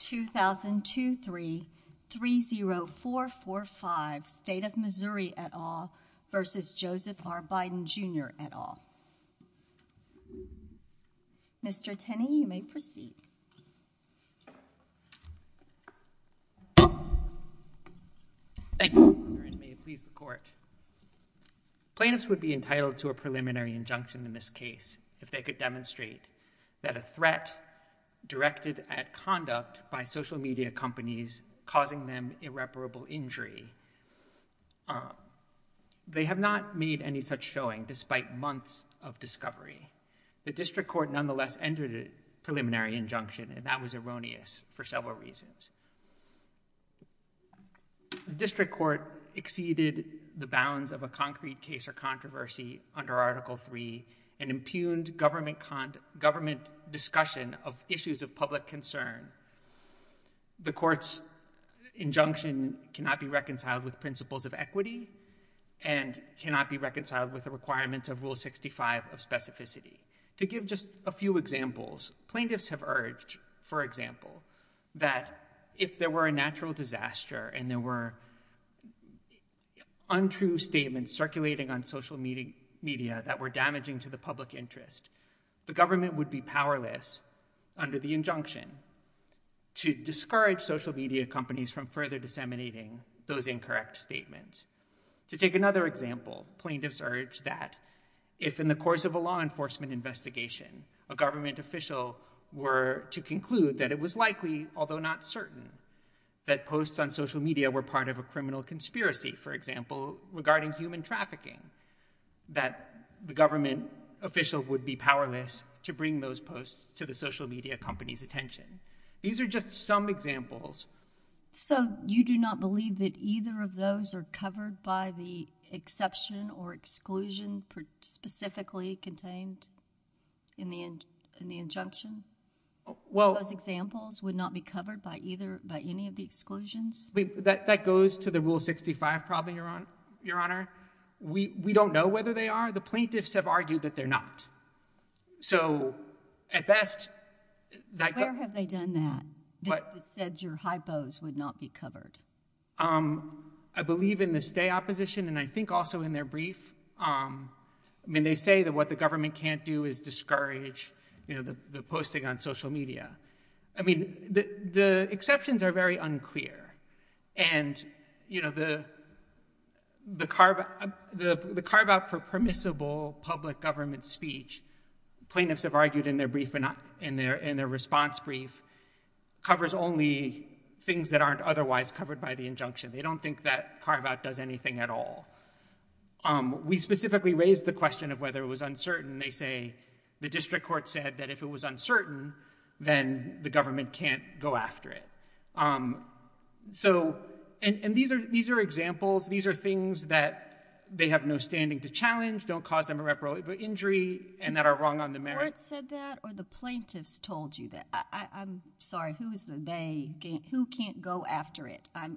2003-30445, State of Missouri et al. v. Joseph R. Biden, Jr. et al. Mr. Tenney, you may proceed. Thank you. Please report. Plaintiffs would be entitled to a preliminary injunction in this case if they could demonstrate that a threat directed at conduct by social media companies causing them irreparable injury. They have not made any such showing despite months of discovery. The district court nonetheless entered a preliminary injunction, and that was erroneous for several reasons. The district court exceeded the bounds of a concrete case or controversy under Article III and impugned government discussion of issues of public concern. The court's injunction cannot be reconciled with principles of equity and cannot be reconciled with the requirements of Rule 65 of specificity. To give just a few examples, plaintiffs have urged, for example, that if there were a natural disaster and there were untrue statements circulating on social media that were damaging to the public interest, the government would be powerless under the injunction to discourage social media companies from further disseminating those incorrect statements. To take another example, plaintiffs urge that if in the course of a law enforcement investigation, a government official were to conclude that it was likely, although not certain, that posts on social media were part of a criminal conspiracy, for example, regarding human trafficking, that the government official would be powerless to bring those posts to the social media company's attention. These are just some examples. So you do not believe that either of those are covered by the exception or exclusion specifically contained in the injunction? Those examples would not be covered by any of the exclusions? That goes to the Rule 65 problem, Your Honor. We don't know whether they are. The plaintiffs have argued that they're not. So at best... Where have they done that, that said your hypos would not be covered? I believe in the stay opposition and I think also in their brief. I mean, they say that what the government can't do is discourage, you know, the posting on social media. I mean, the exceptions are very unclear. And, you know, the carve-out for permissible public government speech, plaintiffs have argued in their response brief, covers only things that aren't otherwise covered by the injunction. They don't think that carve-out does anything at all. We specifically raised the question of whether it was uncertain. They say the district court said that if it was uncertain, then the government can't go after it. So... And these are examples. These are things that they have no standing to challenge, don't cause them irreparable injury, and that are wrong on the merits. The court said that or the plaintiffs told you that? I'm sorry. Who can't go after it? I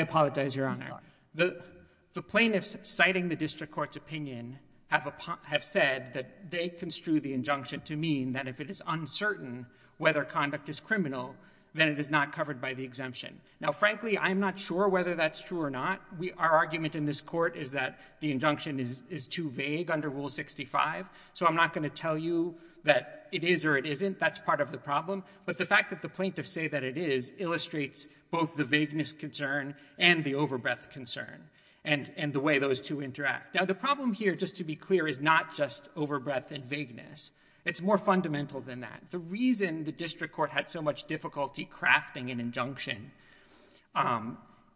apologize, Your Honor. The plaintiffs citing the district court's opinion have said that they construe the injunction to mean that if it is uncertain whether conduct is criminal, then it is not covered by the exemption. Now, frankly, I'm not sure whether that's true or not. Our argument in this court is that the injunction is too vague under Rule 65. So I'm not going to tell you that it is or it isn't. That's part of the problem. But the fact that the plaintiffs say that it is illustrates both the vagueness concern and the overbreath concern and the way those two interact. Now, the problem here, just to be clear, is not just overbreath and vagueness. It's more fundamental than that. The reason the district court had so much difficulty crafting an injunction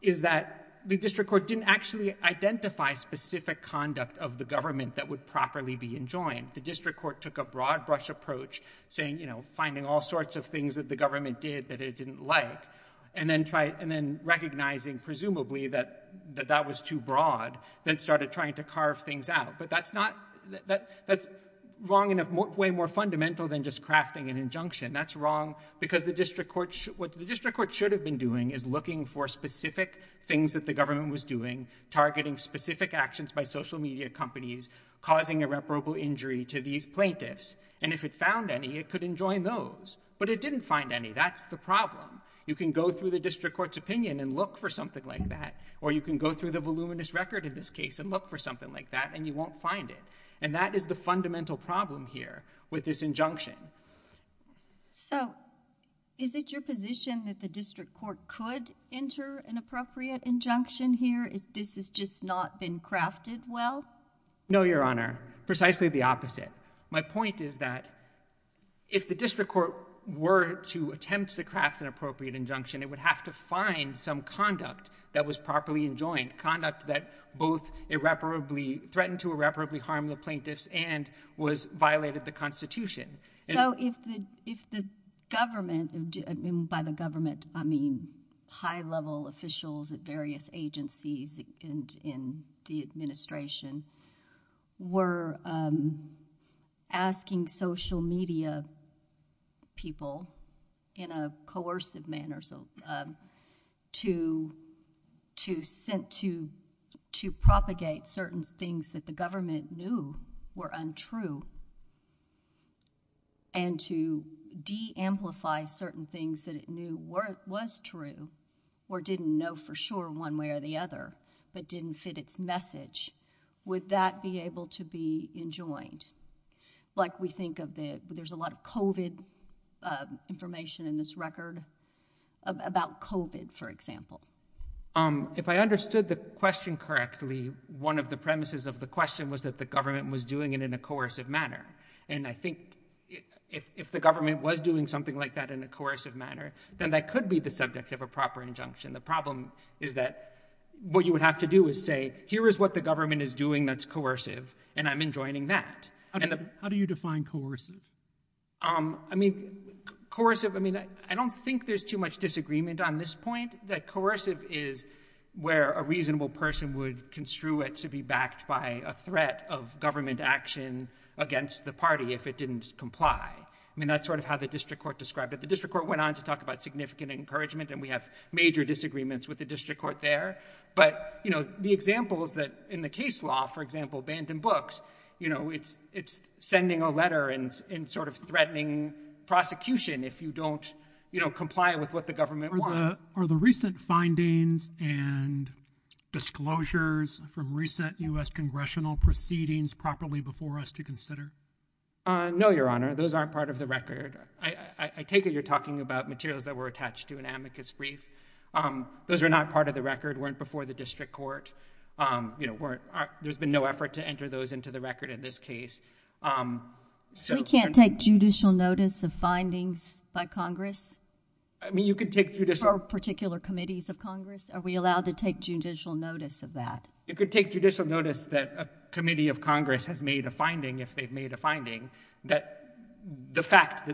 is that the district court didn't actually identify specific conduct of the government that would properly be enjoined. The district court took a broad-brush approach, saying, you know, finding all sorts of things that the government did that it didn't like, and then recognizing, presumably, that that was too broad, then started trying to carve things out. But that's long enough, way more fundamental than just crafting an injunction. That's wrong because what the district court should have been doing is looking for specific things that the government was doing, targeting specific actions by social media companies, causing irreparable injury to these plaintiffs. And if it found any, it could enjoin those. But it didn't find any. That's the problem. You can go through the district court's opinion and look for something like that, or you can go through the voluminous record of this case and look for something like that, and you won't find it. And that is the fundamental problem here with this injunction. So is it your position that the district court could enter an appropriate injunction here if this has just not been crafted well? No, Your Honor. Precisely the opposite. My point is that if the district court were to attempt to craft an appropriate injunction, it would have to find some conduct that was properly enjoined, conduct that both threatened to irreparably harm the plaintiffs and violated the Constitution. So if the government, and by the government I mean high-level officials at various agencies in the administration, were asking social media people in a coercive manner to propagate certain things that the government knew were untrue, and to de-amplify certain things that it knew was true, or didn't know for sure one way or the other, but didn't fit its message, would that be able to be enjoined? Like we think of there's a lot of COVID information in this record about COVID, for example. If I understood the question correctly, one of the premises of the question was that the government was doing it in a coercive manner. And I think if the government was doing something like that in a coercive manner, then that could be the subject of a proper injunction. The problem is that what you would have to do is say, here is what the government is doing that's coercive, and I'm enjoining that. How do you define coercive? I mean, coercive, I don't think there's too much disagreement on this point, but I think that coercive is where a reasonable person would construe it to be backed by a threat of government action against the party if it didn't comply. I mean, that's sort of how the district court described it. The district court went on to talk about significant encouragement, and we have major disagreements with the district court there. But, you know, the example of that in the case law, for example, banned in books, you know, it's sending a letter and sort of threatening prosecution if you don't, you know, comply with what the government wants. Are the recent findings and disclosures from recent U.S. congressional proceedings properly before us to consider? No, Your Honor. Those aren't part of the record. I take it you're talking about materials that were attached to an amicus brief. Those are not part of the record, weren't before the district court. You know, there's been no effort to enter those into the record in this case. We can't take judicial notice of findings by Congress? I mean, you could take judicial notice. From particular committees of Congress? Are we allowed to take judicial notice of that? You could take judicial notice that a committee of Congress has made a finding, if they've made a finding, that the fact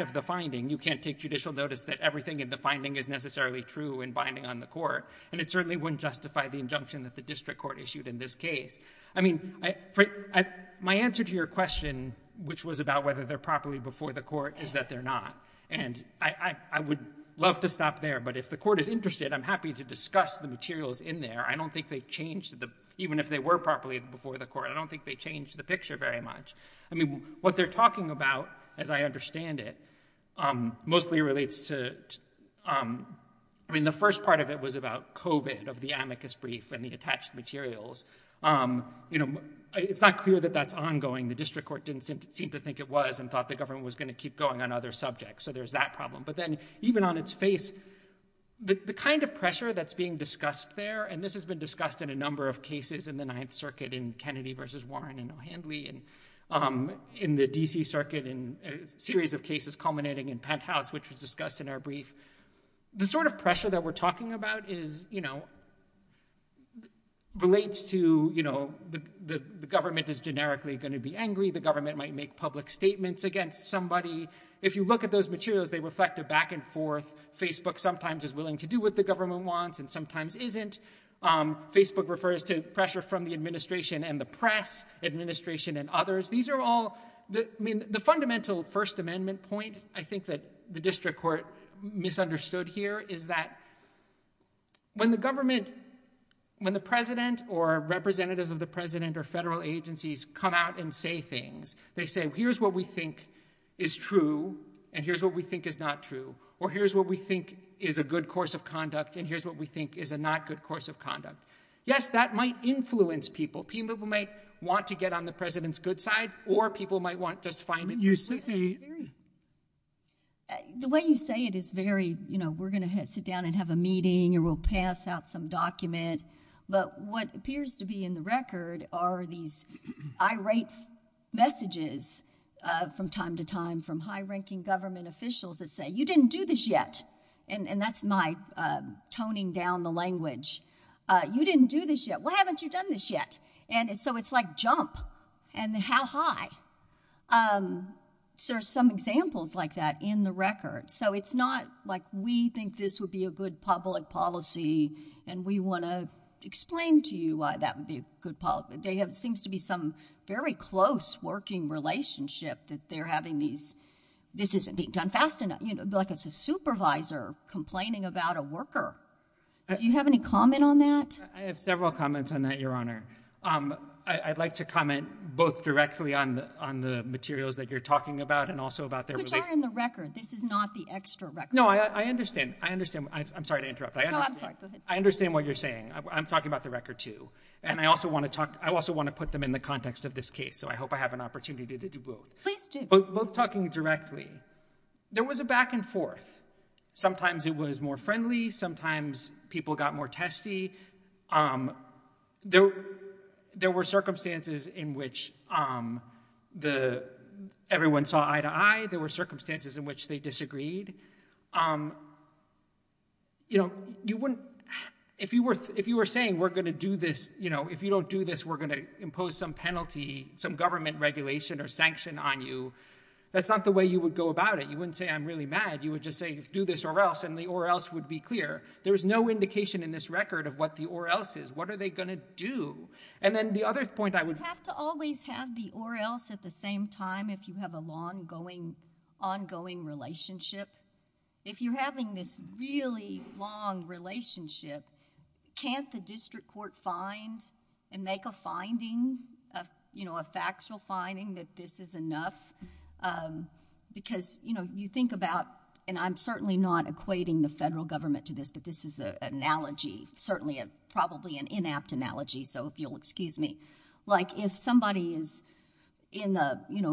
of the finding, you can't take judicial notice that everything in the finding is necessarily true and binding on the court. And it certainly wouldn't justify the injunction that the district court issued in this case. I mean, my answer to your question, which was about whether they're properly before the court, is that they're not. And I would love to stop there, but if the court is interested, I'm happy to discuss the materials in there. I don't think they've changed, even if they were properly before the court, I don't think they've changed the picture very much. I mean, what they're talking about, as I understand it, mostly relates to, I mean, the first part of it was about COVID, of the amicus brief and the attached materials. You know, it's not clear that that's ongoing. The district court didn't seem to think it was and thought the government was going to keep going on other subjects. So there's that problem. But then, even on its face, the kind of pressure that's being discussed there, and this has been discussed in a number of cases in the Ninth Circuit, in Kennedy versus Warren and O'Hanley, and in the D.C. Circuit in a series of cases culminating in Penthouse, which was discussed in our brief. The sort of pressure that we're talking about is, you know, relates to, you know, the government is generically going to be angry. The government might make public statements against somebody. If you look at those materials, they reflect a back and forth. Facebook sometimes is willing to do what the government wants and sometimes isn't. Facebook refers to pressure from the administration and the press, administration and others. These are all, I mean, the fundamental First Amendment point, I think that the district court misunderstood here, is that when the government, when the president or representatives of the president or federal agencies come out and say things, they say, here's what we think is true and here's what we think is not true, or here's what we think is a good course of conduct and here's what we think is a not good course of conduct. Yes, that might influence people. People might want to get on the president's good side or people might want to just find it useful. The way you say it is very, you know, we're going to sit down and have a meeting or we'll pass out some document, but what appears to be in the record are these irate messages from time to time from high-ranking government officials that say, you didn't do this yet, and that's my toning down the language. You didn't do this yet. Why haven't you done this yet? And so it's like jump and how high? There's some examples like that in the record. So it's not like we think this would be a good public policy and we want to explain to you why that would be a good policy. There seems to be some very close working relationship that they're having these, this isn't being done fast enough, like it's a supervisor complaining about a worker. Do you have any comment on that? I have several comments on that, Your Honor. I'd like to comment both directly on the materials that you're talking about and also about their relationship. But they're in the record. This is not the extra record. No, I understand. I understand. I'm sorry to interrupt. No, I'm sorry. I understand what you're saying. I'm talking about the record too. And I also want to put them in the context of this case, so I hope I have an opportunity to do both. Please do. Both talking directly, there was a back and forth. Sometimes it was more friendly, sometimes people got more testy, there were circumstances in which everyone saw eye to eye, there were circumstances in which they disagreed. If you were saying, if you don't do this, we're going to impose some penalty, some government regulation or sanction on you, that's not the way you would go about it. You wouldn't say, I'm really mad. You would just say, do this or else, and the or else would be clear. There's no indication in this record of what the or else is. What are they going to do? You have to always have the or else at the same time if you have an ongoing relationship. If you're having this really long relationship, can't the district court find and make a finding, a factual finding that this is enough? Because you think about, and I'm certainly not equating the federal government to this, but this is an analogy, certainly probably an inapt analogy, so if you'll excuse me. Like if somebody is in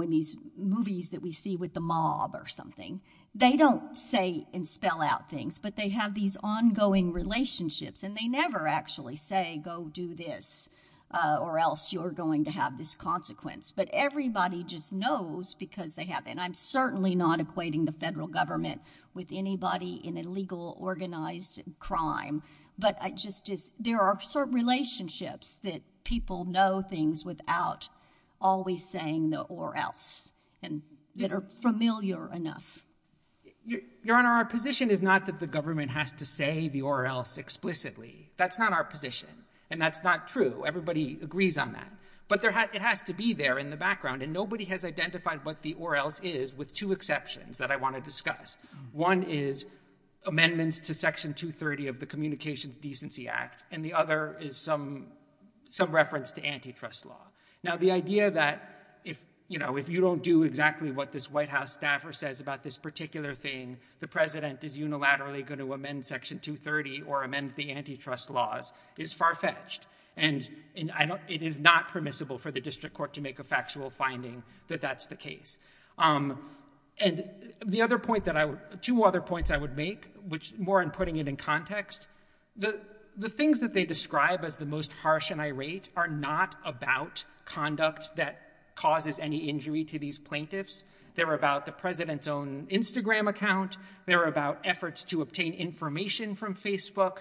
these movies that we see with the mob or something, they don't say and spell out things, but they have these ongoing relationships and they never actually say, go do this, or else you're going to have this consequence. But everybody just knows because they have, and I'm certainly not equating the federal government with anybody in a legal organized crime, but there are certain relationships that people know things without always saying the or else that are familiar enough. Your Honor, our position is not that the government has to say the or else explicitly. That's not our position, and that's not true. Everybody agrees on that. But it has to be there in the background, and nobody has identified what the or else is with two exceptions that I want to discuss. One is amendments to Section 230 of the Communications Decency Act, and the other is some reference to antitrust law. Now, the idea that if you don't do exactly what this White House staffer says about this particular thing, the president is unilaterally going to amend Section 230 or amend the antitrust laws is far-fetched, and it is not permissible for the district court to make a factual finding that that's the case. And two other points I would make, more in putting it in context, the things that they describe as the most harsh and irate are not about conduct that causes any injury to these plaintiffs. They're about the president's own Instagram account. They're about efforts to obtain information from Facebook.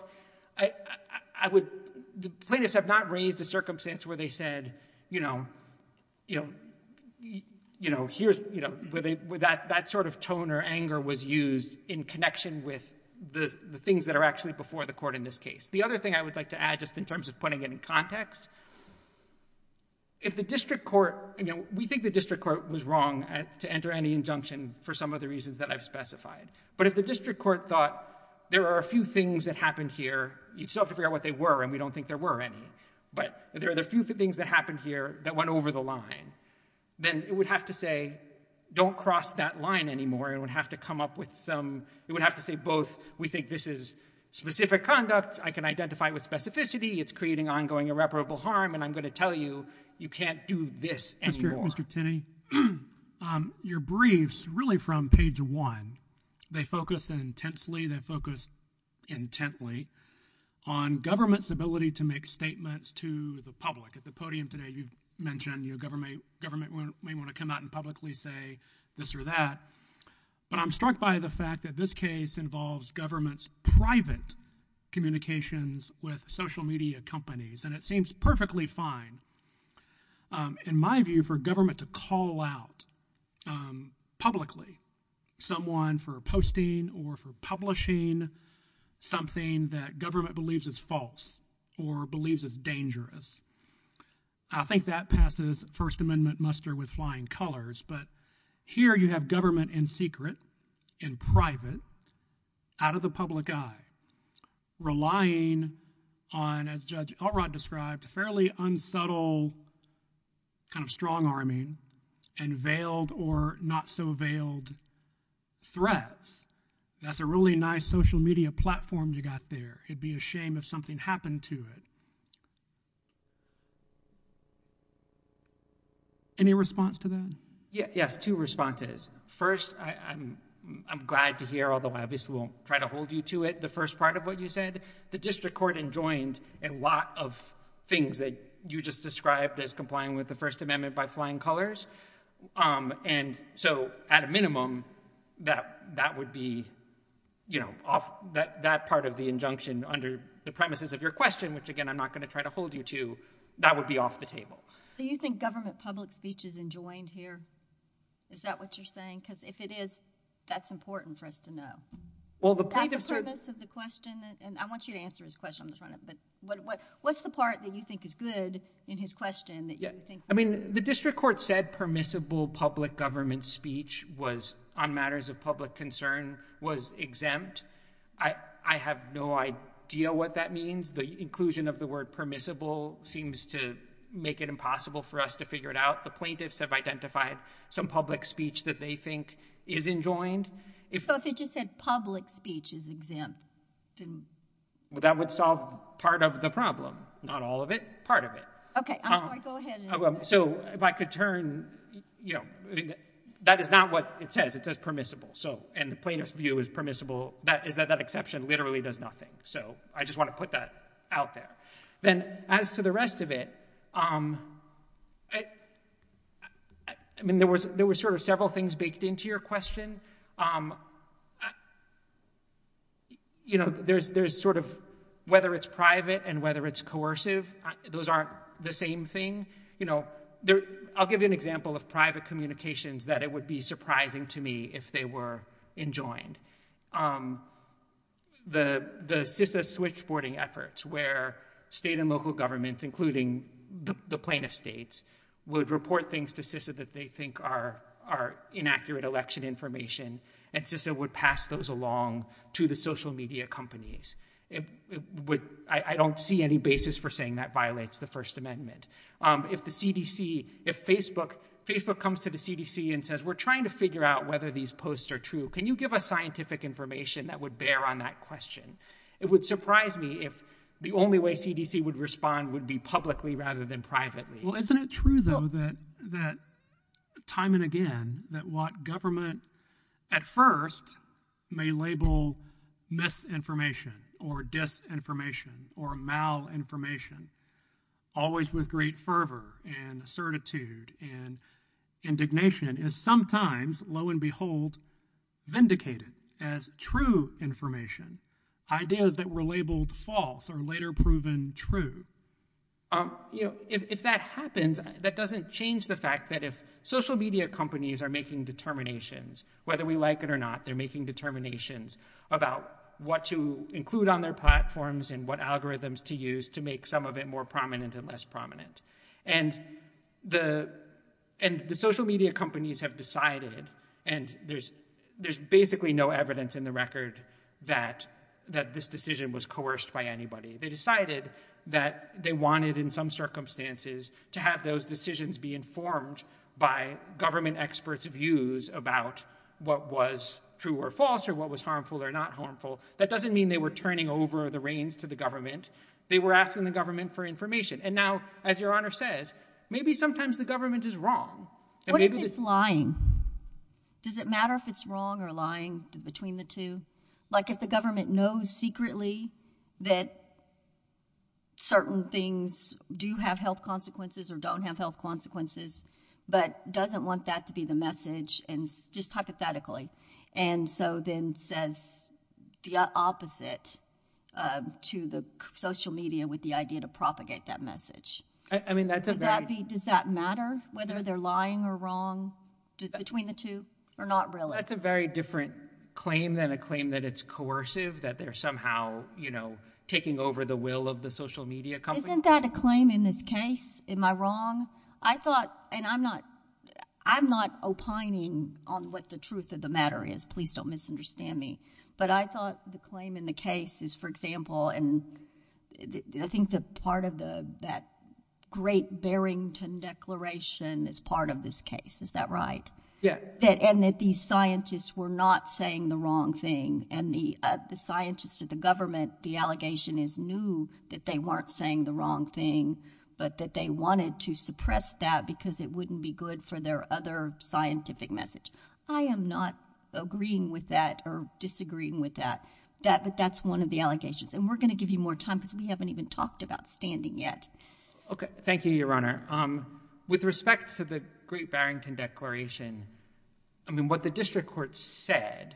The plaintiffs have not raised a circumstance where they said, you know, that sort of tone or anger was used in connection with the things that are actually before the court in this case. The other thing I would like to add, just in terms of putting it in context, we think the district court was wrong to enter any injunction for some of the reasons that I've specified. But if the district court thought there are a few things that happened here, you'd still have to figure out what they were, and we don't think there were any, but there are a few things that happened here that went over the line, then it would have to say, don't cross that line anymore. It would have to come up with some, it would have to say both, we think this is specific conduct, I can identify with specificity, it's creating ongoing irreparable harm, and I'm going to tell you, you can't do this anymore. Mr. Tinney, your briefs, really from page one, they focus intensely, they focus intently, on government's ability to make statements to the public. At the podium today, you've mentioned government may want to come out and publicly say this or that, but I'm struck by the fact that this case involves government's private communications with social media companies, and it seems perfectly fine, in my view, for government to call out publicly someone for posting or for publishing something that government believes is false or believes is dangerous. I think that passes First Amendment muster with flying colors, but here you have government in secret, in private, out of the public eye, relying on, as Judge Elrod described, fairly unsubtle kind of strong-arming, and veiled or not-so-veiled threats. That's a really nice social media platform you got there. It'd be a shame if something happened to it. Any response to that? Yes, two responses. First, I'm glad to hear all the lobbyists will try to hold you to it, the first part of what you said. The district court enjoined a lot of things that you just described as complying with the First Amendment by flying colors. And so, at a minimum, that would be that part of the injunction under the premises of your question, which, again, I'm not going to try to hold you to. That would be off the table. So you think government public speech is enjoined here? Is that what you're saying? Because if it is, that's important for us to know. Well, the point of service of the question, and I want you to answer his question. What's the part that you think is good in his question? The district court said permissible public government speech on matters of public concern was exempt. I have no idea what that means. The inclusion of the word permissible seems to make it impossible for us to figure it out. The plaintiffs have identified some public speech that they think is enjoined. So if it just said public speech is exempt, then? Well, that would solve part of the problem. Not all of it. Part of it. So if I could turn, that is not what it says. It says permissible. And the plaintiff's view is permissible. That exception literally does nothing. So I just want to put that out there. Then, as to the rest of it, there were several things baked into your question. You know, there's sort of whether it's private and whether it's coercive. Those aren't the same thing. You know, I'll give you an example of private communications that it would be surprising to me if they were enjoined. The CISA switchboarding efforts where state and local governments, including the plaintiff states, would report things to CISA that they think are inaccurate election information. And CISA would pass those along to the social media companies. I don't see any basis for saying that violates the First Amendment. If Facebook comes to the CDC and says, we're trying to figure out whether these posts are true, can you give us scientific information that would bear on that question? It would surprise me if the only way CDC would respond would be publicly rather than privately. Well, isn't it true, though, that time and again, that what government at first may label misinformation or disinformation or malinformation, always with great fervor and certitude and indignation, is sometimes, lo and behold, vindicated as true information, ideas that were labeled false or later proven true? You know, if that happens, that doesn't change the fact that if social media companies are making determinations, whether we like it or not, they're making determinations about what to include on their platforms and what algorithms to use to make some of it more prominent and less prominent. And the social media companies have decided, and there's basically no evidence in the record that this decision was coerced by anybody. They decided that they wanted, in some circumstances, to have those decisions be informed by government experts' views about what was true or false or what was harmful or not harmful. That doesn't mean they were turning over the reins to the government. They were asking the government for information. And now, as Your Honor says, maybe sometimes the government is wrong. What if it's lying? Does it matter if it's wrong or lying between the two? Like, if the government knows secretly that certain things do have health consequences or don't have health consequences but doesn't want that to be the message, just hypothetically, and so then says the opposite to the social media with the idea to propagate that message. I mean, that's a very... Does that matter whether they're lying or wrong between the two? Or not really? That's a very different claim than a claim that it's coercive, that they're somehow, you know, taking over the will of the social media company. Isn't that a claim in this case? Am I wrong? I thought, and I'm not opining on what the truth of the matter is. Please don't misunderstand me. But I thought the claim in the case is, for example, and I think that part of that great Barrington Declaration is part of this case. Is that right? Yes. And that these scientists were not saying the wrong thing and the scientists of the government, the allegation is new that they weren't saying the wrong thing but that they wanted to suppress that because it wouldn't be good for their other scientific message. I am not agreeing with that or disagreeing with that. But that's one of the allegations. And we're going to give you more time because we haven't even talked about standing yet. Okay. Thank you, Your Honor. With respect to the great Barrington Declaration, I mean, what the district courts said,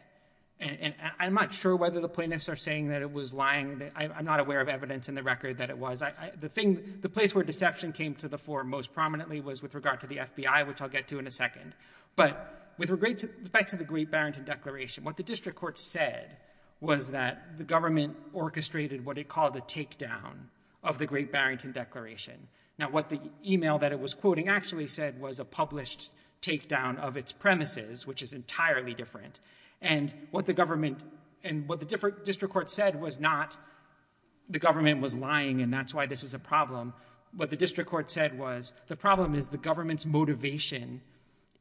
and I'm not sure whether the plaintiffs are saying that it was lying. I'm not aware of evidence in the record that it was. The place where deception came to the fore most prominently was with regard to the FBI, which I'll get to in a second. But with respect to the great Barrington Declaration, what the district courts said was that the government orchestrated what they called a takedown of the great Barrington Declaration. Now, what the email that it was quoting actually said was a published takedown of its premises, which is entirely different. And what the government and what the district court said was not the government was lying and that's why this is a problem. What the district court said was the problem is the government's motivation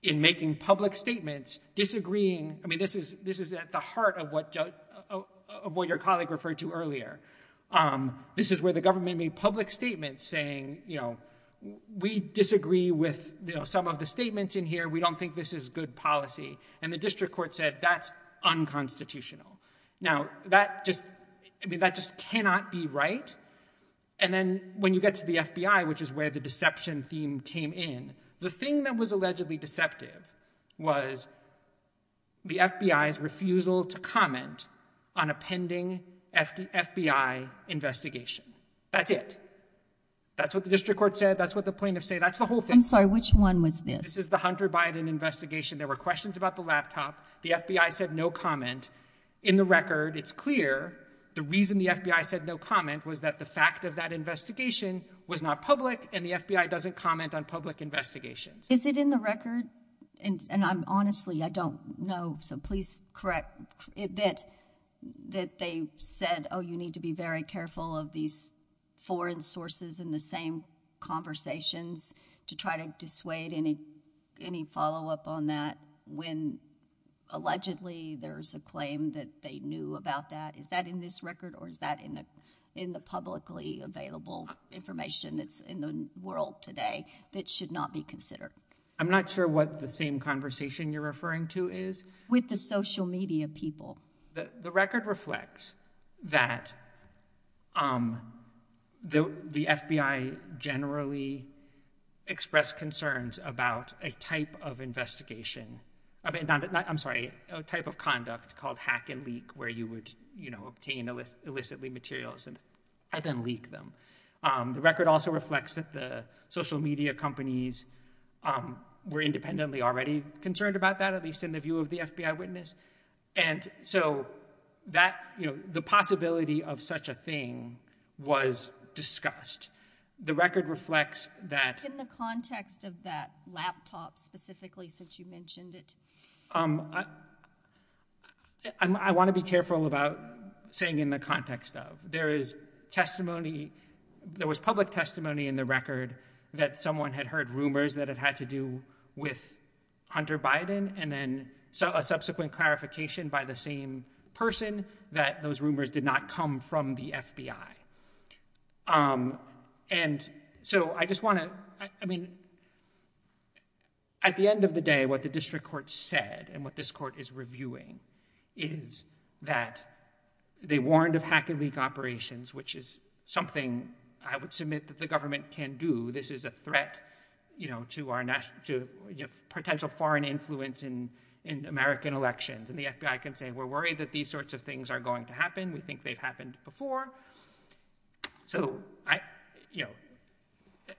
in making public statements disagreeing. I mean, this is at the heart of what your colleague referred to earlier. This is where the government made public statements saying, you know, we disagree with some of the statements in here. We don't think this is good policy. And the district court said that's unconstitutional. Now, that just cannot be right. And then when you get to the FBI, which is where the deception theme came in, the thing that was allegedly deceptive was the FBI's refusal to comment on a pending FBI investigation. That's it. That's what the district court said. That's what the plaintiffs said. That's the whole thing. I'm sorry, which one was this? This is the Hunter Biden investigation. There were questions about the laptop. The FBI said no comment. In the record, it's clear the reason the FBI said no comment was that the fact of that investigation was not public and the FBI doesn't comment on public investigations. Is it in the record? And honestly, I don't know, so please correct that they said, oh, you need to be very careful of these foreign sources in the same conversations to try to dissuade any follow-up on that when allegedly there's a claim that they knew about that. Is that in this record or is that in the publicly available information that's in the world today that should not be considered? I'm not sure what the same conversation you're referring to is. With the social media people. The record reflects that the FBI generally expressed concerns about a type of investigation. I'm sorry, a type of conduct called hack and leak, where you would obtain illicitly materials and then leak them. The record also reflects that the social media companies were independently already concerned about that, at least in the view of the FBI witness. And so the possibility of such a thing was discussed. The record reflects that. What's in the context of that laptop specifically since you mentioned it? I want to be careful about saying in the context of. There is testimony, there was public testimony in the record that someone had heard rumors that it had to do with Hunter Biden and then a subsequent clarification by the same person that those rumors did not come from the FBI. And so I just want to, I mean, at the end of the day, what the district court said and what this court is reviewing is that they warned of hack and leak operations, which is something I would submit that the government can do. This is a threat to potential foreign influence in American elections. And the FBI can say we're worried that these sorts of things are going to happen. We think they've happened before. So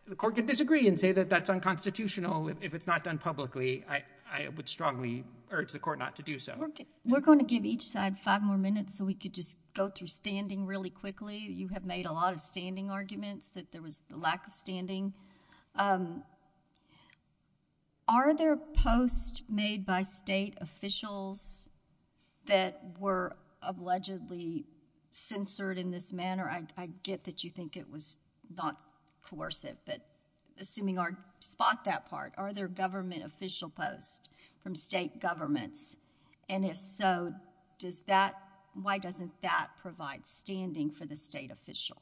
the court can disagree and say that that's unconstitutional if it's not done publicly. I would strongly urge the court not to do so. We're going to give each side five more minutes so we could just go through standing really quickly. You have made a lot of standing arguments that there was a lack of standing. Are there posts made by state officials that were allegedly censored in this manner? I get that you think it was not coercive, but assuming I spot that part, are there government official posts from state governments? And if so, why doesn't that provide standing for the state official?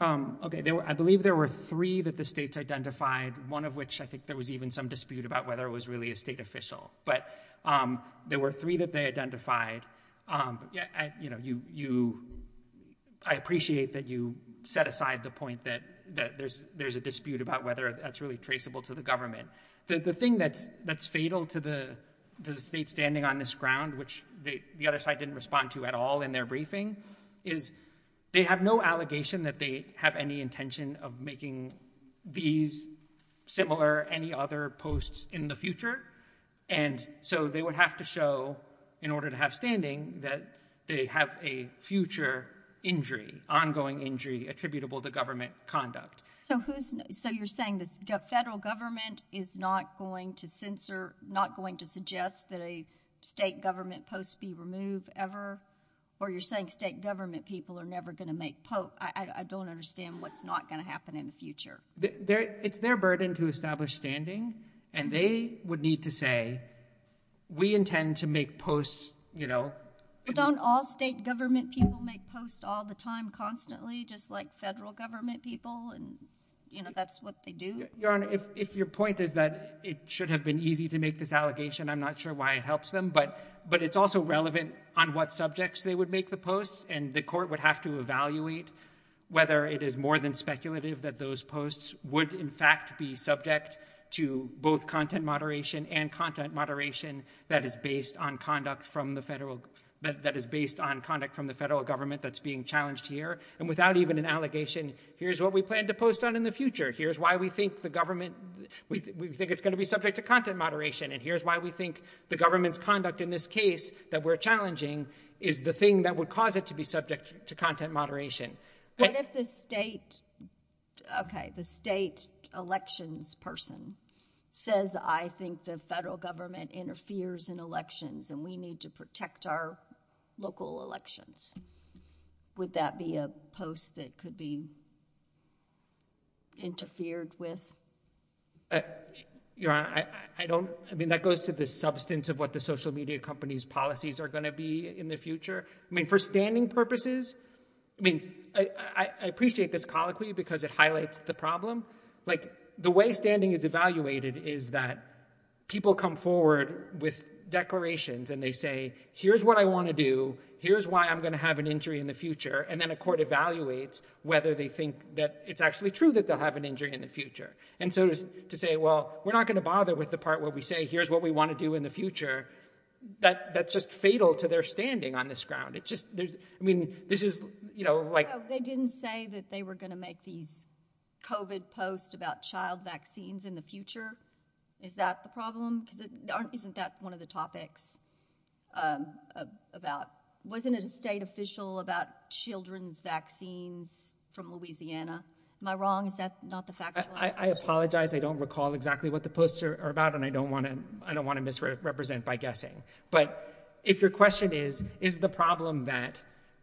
I believe there were three that the states identified, one of which I think there was even some dispute about whether it was really a state official. But there were three that they identified. I appreciate that you set aside the point that there's a dispute about whether that's really traceable to the government. The thing that's fatal to the state standing on this ground, which the other side didn't respond to at all in their briefing, is they have no allegation that they have any intention of making these similar or any other posts in the future. And so they would have to show, in order to have standing, that they have a future injury, ongoing injury attributable to government conduct. So you're saying the federal government is not going to censor, not going to suggest that a state government post be removed ever? Or you're saying state government people are never going to make posts? I don't understand what's not going to happen in the future. It's their burden to establish standing. And they would need to say, we intend to make posts, you know. But don't all state government people make posts all the time, constantly, just like federal government people? And, you know, that's what they do? Your Honor, if your point is that it should have been easy to make this allegation, I'm not sure why it helps them. But it's also relevant on what subjects they would make the posts. And the court would have to evaluate whether it is more than speculative that those posts would, in fact, be subject to both content moderation and content moderation that is based on conduct from the federal government that's being challenged here. And without even an allegation, here's what we plan to post on in the future. Here's why we think the government, we think it's going to be subject to content moderation. And here's why we think the government's conduct in this case that we're challenging is the thing that would cause it to be subject to content moderation. But if the state, okay, the state elections person says, I think the federal government interferes in elections and we need to protect our local elections, would that be a post that could be interfered with? You know, I don't, I mean, that goes to the substance of what the social media company's policies are going to be in the future. I mean, for standing purposes, I mean, I appreciate this colloquy because it highlights the problem. Like the way standing is evaluated is that people come forward with declarations and they say, here's what I want to do, here's why I'm going to have an injury in the future. And then a court evaluates whether they think that it's actually true that they're going to have an injury in the future. And so to say, well, we're not going to bother with the part where we say, here's what we want to do in the future. That that's just fatal to their standing on this ground. It's just, I mean, this is, you know, like. They didn't say that they were going to make these COVID posts about child vaccines in the future. Is that the problem? I think that's one of the topics about, wasn't a state official about children's vaccines from Louisiana. Am I wrong? That's not the fact. I apologize. I don't recall exactly what the posts are about. And I don't want to, I don't want to misrepresent by guessing, but if your question is, is the problem that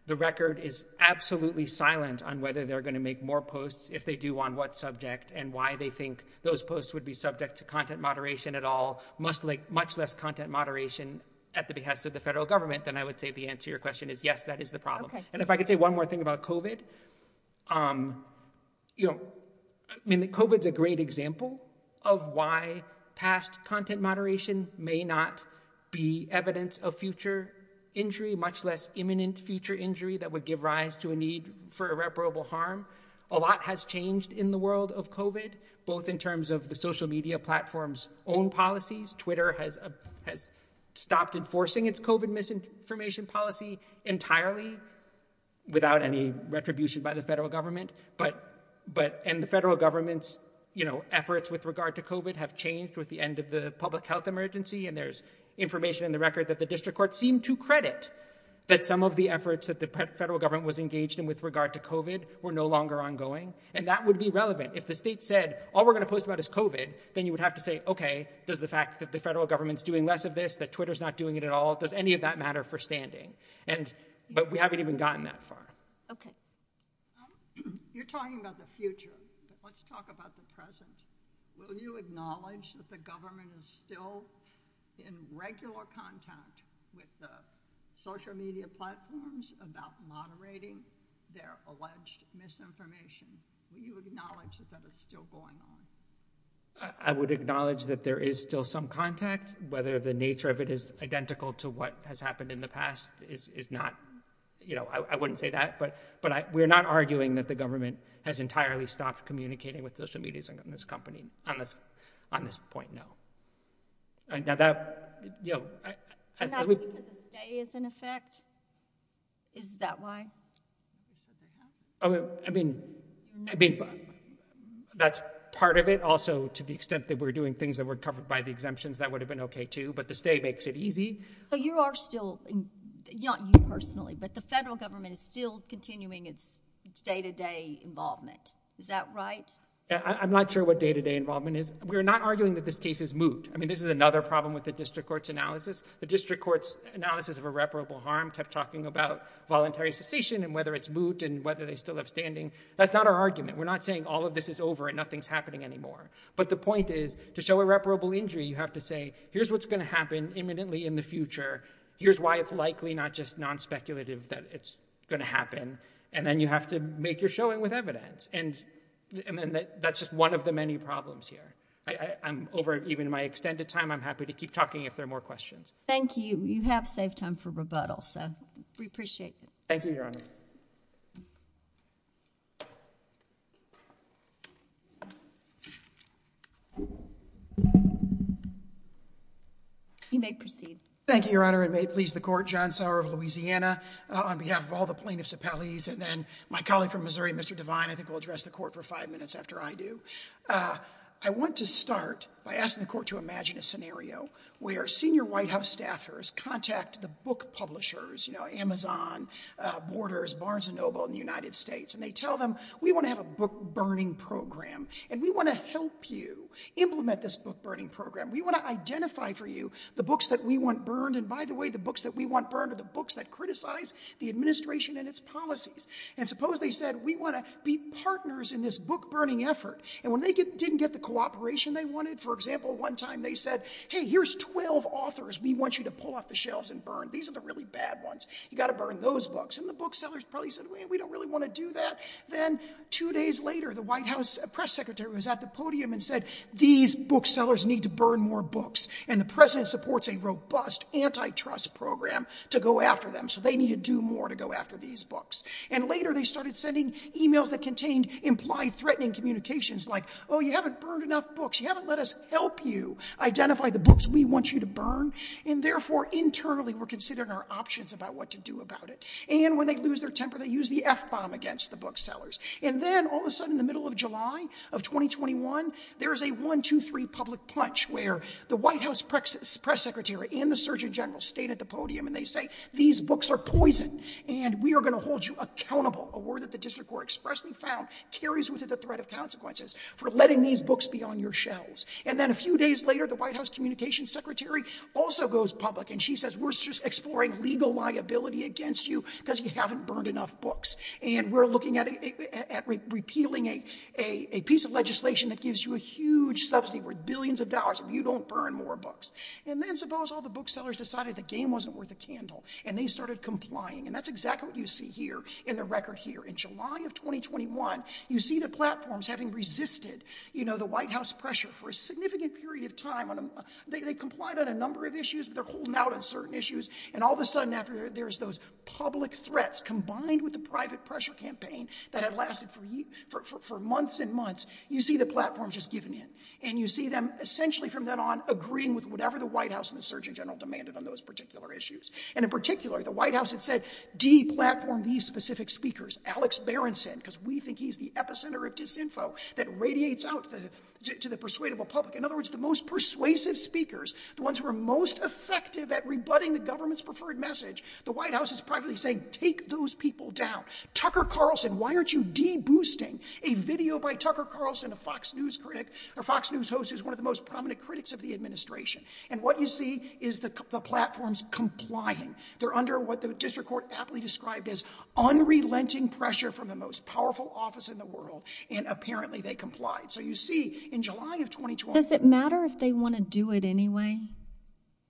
the record is absolutely silent on whether they're going to make more posts, if they do want what subject and why they think those posts would be subject to content moderation at all, much less content moderation at the behest of the federal government. Then I would say the answer to your question is yes, that is the problem. And if I could say one more thing about COVID, you know, COVID is a great example of why past content moderation may not be evidence of future injury, much less imminent future injury that would give rise to a need for irreparable harm. A lot has changed in the world of COVID both in terms of the social media platforms own policies. Twitter has stopped enforcing its COVID misinformation policy entirely. Without any retribution by the federal government, but, but, and the federal government's, you know, efforts with regard to COVID have changed with the end of the public health emergency. And there's information in the record that the district court seemed to credit that some of the efforts that the federal government was engaged in with regard to COVID were no longer ongoing. And that would be relevant. If the state said, all we're going to post about is COVID, then you would have to say, okay, does the fact that the federal government's doing less of this, that Twitter's not doing it at all. Does any of that matter for standing? And, but we haven't even gotten that far. Okay. You're talking about the future. Let's talk about the present. Will you acknowledge that the government is still in regular contact with the social media platforms about moderating their alleged misinformation? Do you acknowledge that it's still going on? I would acknowledge that there is still some contact, whether the nature of it is identical to what has happened in the past is not, you know, I wouldn't say that, but, but I, we're not arguing that the government has entirely stopped communicating with social medias and this company on this, on this point now. Yeah. Is that why? I mean, I mean, that's part of it also to the extent that we're doing things that were covered by the exemptions, that would have been okay too, but the state makes it easy. So you are still, not you personally, but the federal government is still continuing its day-to-day involvement. Is that right? I'm not sure what day-to-day involvement is. We're not arguing that this case is moot. I mean, this is another problem with the district court's analysis. The district court's analysis of irreparable harm kept talking about voluntary secession and whether it's moot and whether they still have standing. That's not our argument. We're not saying all of this is over and nothing's happening anymore. But the point is to show irreparable injury, you have to say, here's what's going to happen imminently in the future. Here's why it's likely not just non-speculative that it's going to happen. And then you have to make your showing with evidence. And that's just one of the many problems here. I'm over, even in my extended time, I'm happy to keep talking if there are more questions. Thank you. You have saved time for rebuttal. So we appreciate that. Thank you, Jeremy. You may proceed. Thank you, Your Honor. And may it please the court, John Sauer of Louisiana, on behalf of all the plaintiffs' appellees, and then my colleague from Missouri, Mr. Devine. I think we'll address the court for five minutes after I do. I want to start by asking the court to imagine a scenario where senior White House staffers contact the book publishers, you know, Amazon, Borders, and so on and so forth, and they tell them, we want to have a book-burning program. And we want to help you implement this book-burning program. We want to identify for you the books that we want burned. And by the way, the books that we want burned are the books that criticize the administration and its policies. And suppose they said, we want to be partners in this book-burning effort. And when they didn't get the cooperation they wanted, for example, one time they said, hey, here's 12 authors we want you to pull off the shelves and burn. These are the really bad ones. You got to burn those books. And the booksellers probably said, we don't really want to do that. Then two days later, the White House press secretary was at the podium and said, these booksellers need to burn more books. And the president supports a robust antitrust program to go after them. So they need to do more to go after these books. And later they started sending emails that contained implied threatening communications like, oh, you haven't burned enough books. You haven't let us help you identify the books we want you to burn. And therefore, internally we're considering our options about what to do about it. And when they lose their temper, they use the F-bomb against the booksellers. And then all of a sudden in the middle of July of 2021, there's a one, two, three public punch where the White House press secretary and the Surgeon General state at the podium and they say, these books are poison and we are going to hold you accountable. A word that the district court expressly found carries with it the threat of consequences for letting these books be on your shelves. And then a few days later, the White House communications secretary also goes public and she says, we're just exploring legal liability against you because you haven't burned enough books. And we're looking at repealing a piece of legislation that gives you a huge subsidy worth billions of dollars if you don't burn more books. And then, suppose all the booksellers decided the game wasn't worth a candle and they started complying. And that's exactly what you see here in the record here. In July of 2021, you see the platforms having resisted, you know, the White House pressure for a significant period of time. They complied on a number of issues. They're holding out on certain issues. And all of a sudden, after there's those public threats combined with the private pressure campaign that had lasted for months and months, you see the platform just giving in. And you see them essentially from then on agreeing with whatever the White House and the Surgeon General demanded on those particular issues. And in particular, the White House had said, de-platform these specific speakers. Alex Berenson, because we think he's the epicenter of disinfo that radiates out to the persuadable public. In other words, the most persuasive speakers, the ones who are most effective at rebutting the government's preferred message. The White House is practically saying, take those people down. Tucker Carlson, why aren't you de-boosting a video by Tucker Carlson, a Fox News critic, or Fox News host who's one of the most prominent critics of the administration. And what you see is the platforms complying. They're under what the district court aptly described as unrelenting pressure from the most powerful office in the world. And apparently they complied. So you see in July of 2020. Does it matter if they want to do it anyway?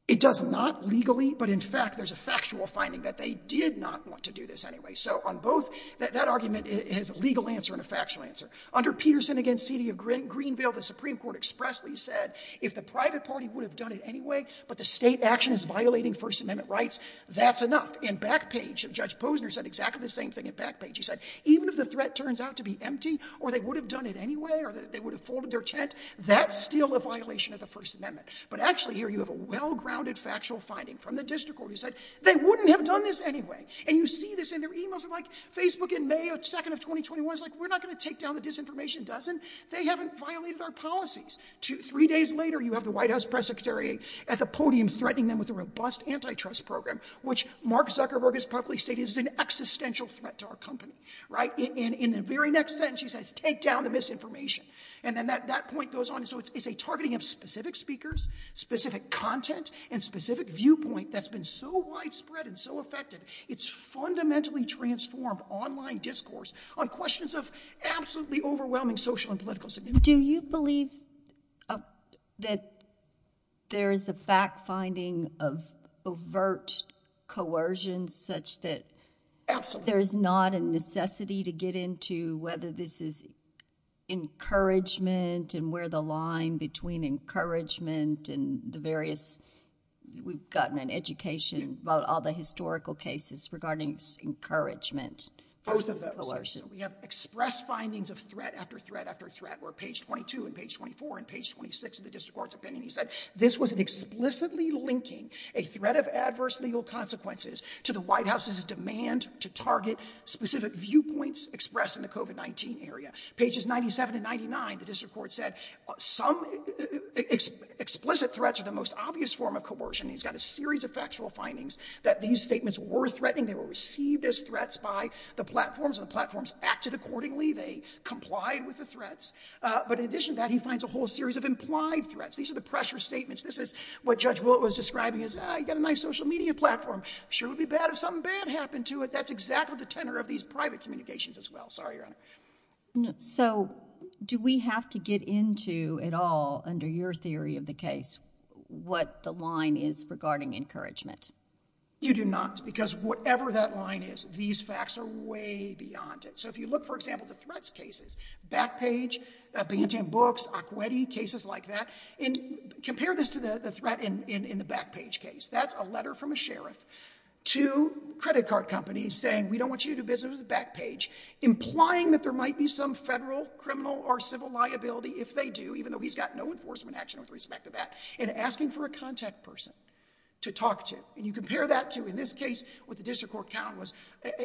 It does not legally. But in fact, there's a factual finding that they did not want to do this anyway. So on both, that argument is a legal answer and a factual answer. Under Peterson against C.D. of Greenville, the Supreme Court expressly said, if the private party would have done it anyway, but the state action is violating First Amendment rights, that's enough. And Backpage, Judge Posner said exactly the same thing in Backpage. He said, even if the threat turns out to be empty, or they would have done it anyway, or they would have folded their tent, that's still a violation of the First Amendment. But actually here you have a well-grounded factual finding from the district court. He said, they wouldn't have done this anyway. And you see this in their emails. Facebook in May 2nd of 2021 is like, we're not going to take down the disinformation, does it? They haven't violated our policies. Three days later, you have the White House press secretary at the podium threatening them with a robust antitrust program, which Mark Zuckerberg has publicly stated is an existential threat to our company. In the very next sentence, he says, take down the misinformation. And then that point goes on. So it's a targeting of specific speakers, specific content, and specific viewpoint that's been so widespread and so effective. It's fundamentally transformed online discourse on questions of absolutely overwhelming social and political significance. Do you believe that there's a fact-finding of overt coercion such that there's not a necessity to get into whether this is encouragement and where the line between encouragement and the various, we've gotten an education about all the historical cases regarding encouragement versus coercion? We have expressed findings of threat after threat after threat, where page 22 and page 24 and page 26 of the district court's opinion, he said, this was an explicitly linking a threat of adverse legal consequences to the White House's demand to target specific viewpoints expressed in the COVID-19 area. Pages 97 and 99 of the district court said some explicit threats are the most obvious form of coercion. He's got a series of factual findings that these statements were threatening. They were received as threats by the platforms, and the platforms acted accordingly. They complied with the threats. But in addition to that, he finds a whole series of implied threats. These are the pressure statements. This is what Judge Wooten was describing as, ah, you've got a nice social media platform. Sure would be bad if something bad happened to it. That's exactly the tenor of these private communications as well. Sorry, Your Honor. So do we have to get into at all, under your theory of the case, what the line is regarding encouragement? You do not. Because whatever that line is, these facts are way beyond it. So if you look, for example, at threats cases, Backpage, Binghamton Books, Acqueti, cases like that, and compare this to the threat in the Backpage case. That's a letter from a sheriff to credit card companies saying, we don't want you to visit us at Backpage, implying that there might be some federal, criminal, or civil liability if they do, even though he's got no enforcement action with respect to that, and asking for a contact person to talk to. And you compare that to, in this case, with the district court count,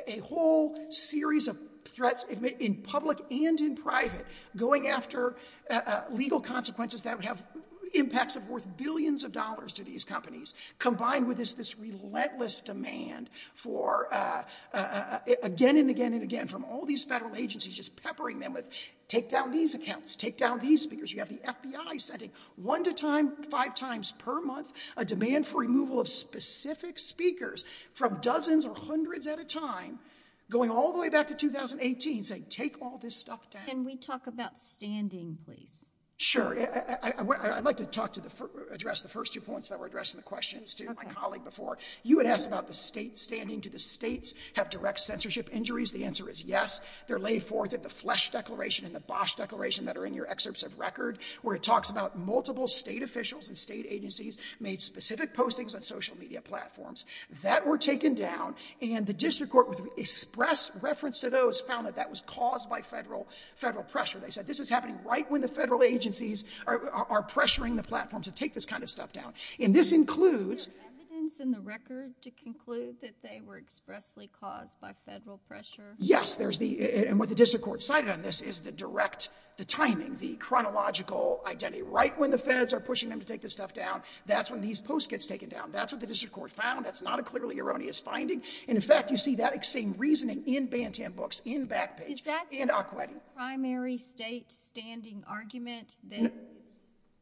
a whole series of threats in public and in private, going after legal consequences that would have impacts of worth billions of dollars to these companies, combined with this relentless demand for, again and again and again, from all these federal agencies, just peppering them with, take down these accounts, take down these speakers. You have the FBI sending one to five times per month a demand for removal of specific speakers from dozens or hundreds at a time, going all the way back to 2018, saying, take all this stuff down. Can we talk about standing, please? Sure. I'd like to address the first two points that were addressed in the question. Stephen and Holly before, you had asked about the state standing. Do the states have direct censorship injuries? The answer is yes. They're laid forth in the Flesch Declaration and the Bosch Declaration that are in your excerpts of record, where it talks about multiple state officials and state agencies made specific postings on social media platforms. That were taken down, and the district court, with express reference to those, found that that was caused by federal pressure. They said this is happening right when the federal agencies are pressuring the platforms to take this kind of stuff down. And this includes... Evidence in the record to conclude that they were expressly caused by federal pressure? Yes. And what the district court cited on this is the direct, the timing, the chronological identity. Right when the feds are pushing them to take this stuff down, that's when these posts get taken down. That's what the district court found. That's not a clearly erroneous finding. And in fact, you see that same reasoning in Bantam Books, in Backpage, in Aqueduct. That's a primary state standing argument?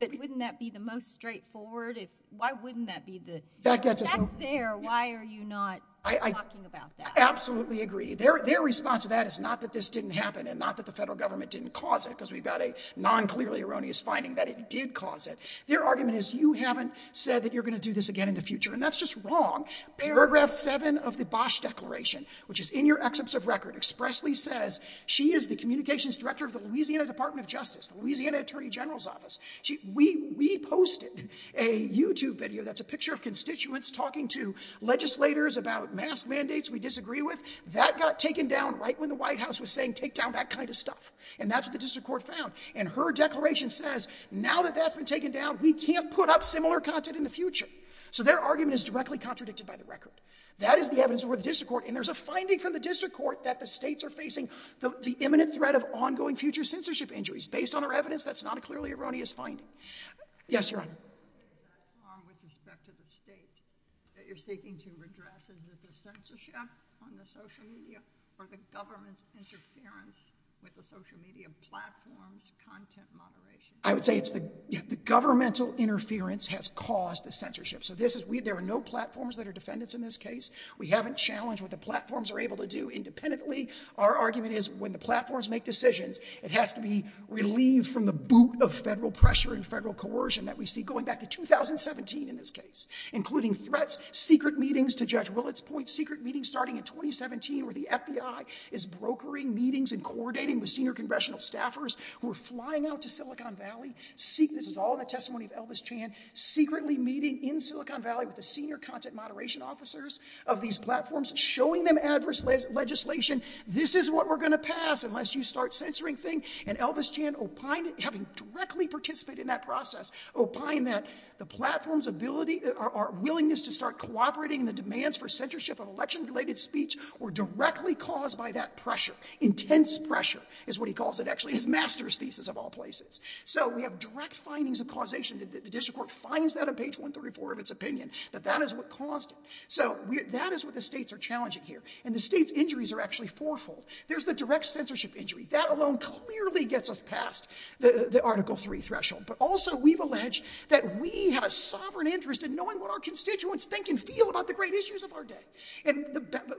Wouldn't that be the most straightforward? Why wouldn't that be the... That's there. Why are you not talking about that? Absolutely agree. Their response to that is not that this didn't happen and not that the federal government didn't cause it, because we've got a non-clearly erroneous finding that it did cause it. Their argument is you haven't said that you're going to do this again in the And that's just wrong. Paragraph 7 of the Bosch Declaration, which is in your excerpts of record, expressly says she is the communications director of the Louisiana Department of Justice, the Louisiana Attorney General's Office. We posted a YouTube video that's a picture of constituents talking to legislators about mask mandates we disagree with. That got taken down right when the White House was saying take down that kind of stuff. And that's what the district court found. And her declaration says now that that's been taken down, we can't put up similar content in the future. So their argument is directly contradicted by the record. That is the evidence of what the district court... And there's a finding from the district court that the states are facing the imminent threat of ongoing future censorship injuries. Based on our evidence, that's not a clearly erroneous finding. Yes, ma'am. With respect to the states that you're seeking to address, is it the censorship on the social media or the government interference with the social media platforms, content moderation? I would say it's the governmental interference has caused the censorship. So there are no platforms that are defendants in this case. We haven't challenged what the platforms are able to do independently. Our argument is when the platforms make decisions, it has to be relieved from the boot of federal pressure and federal coercion that we see going back to 2017 in this case, including threats, secret meetings to Judge Willett's point, secret meetings starting in 2017 where the FBI is brokering meetings and coordinating with senior congressional staffers who are flying out to Silicon Valley. This is all in the testimony of Elvis Chan, secretly meeting in Silicon Valley with the senior content moderation officers of these platforms, showing them adverse legislation. This is what we're going to pass unless you start censoring things. And Elvis Chan opined, having directly participated in that process, opined that the platform's ability, our willingness to start cooperating in the demands for censorship of election-related speech were directly caused by that pressure. Intense pressure is what he calls it. Actually, his master's thesis of all places. So we have direct findings of causation. The district court finds that on page 134 of its opinion, that that is what caused it. So that is what the states are challenging here. And the states' injuries are actually fourfold. There's the direct censorship injury. That alone clearly gets us past the Article III threshold. But also we've alleged that we have a sovereign interest in knowing what our constituents think and feel about the great issues of our day. And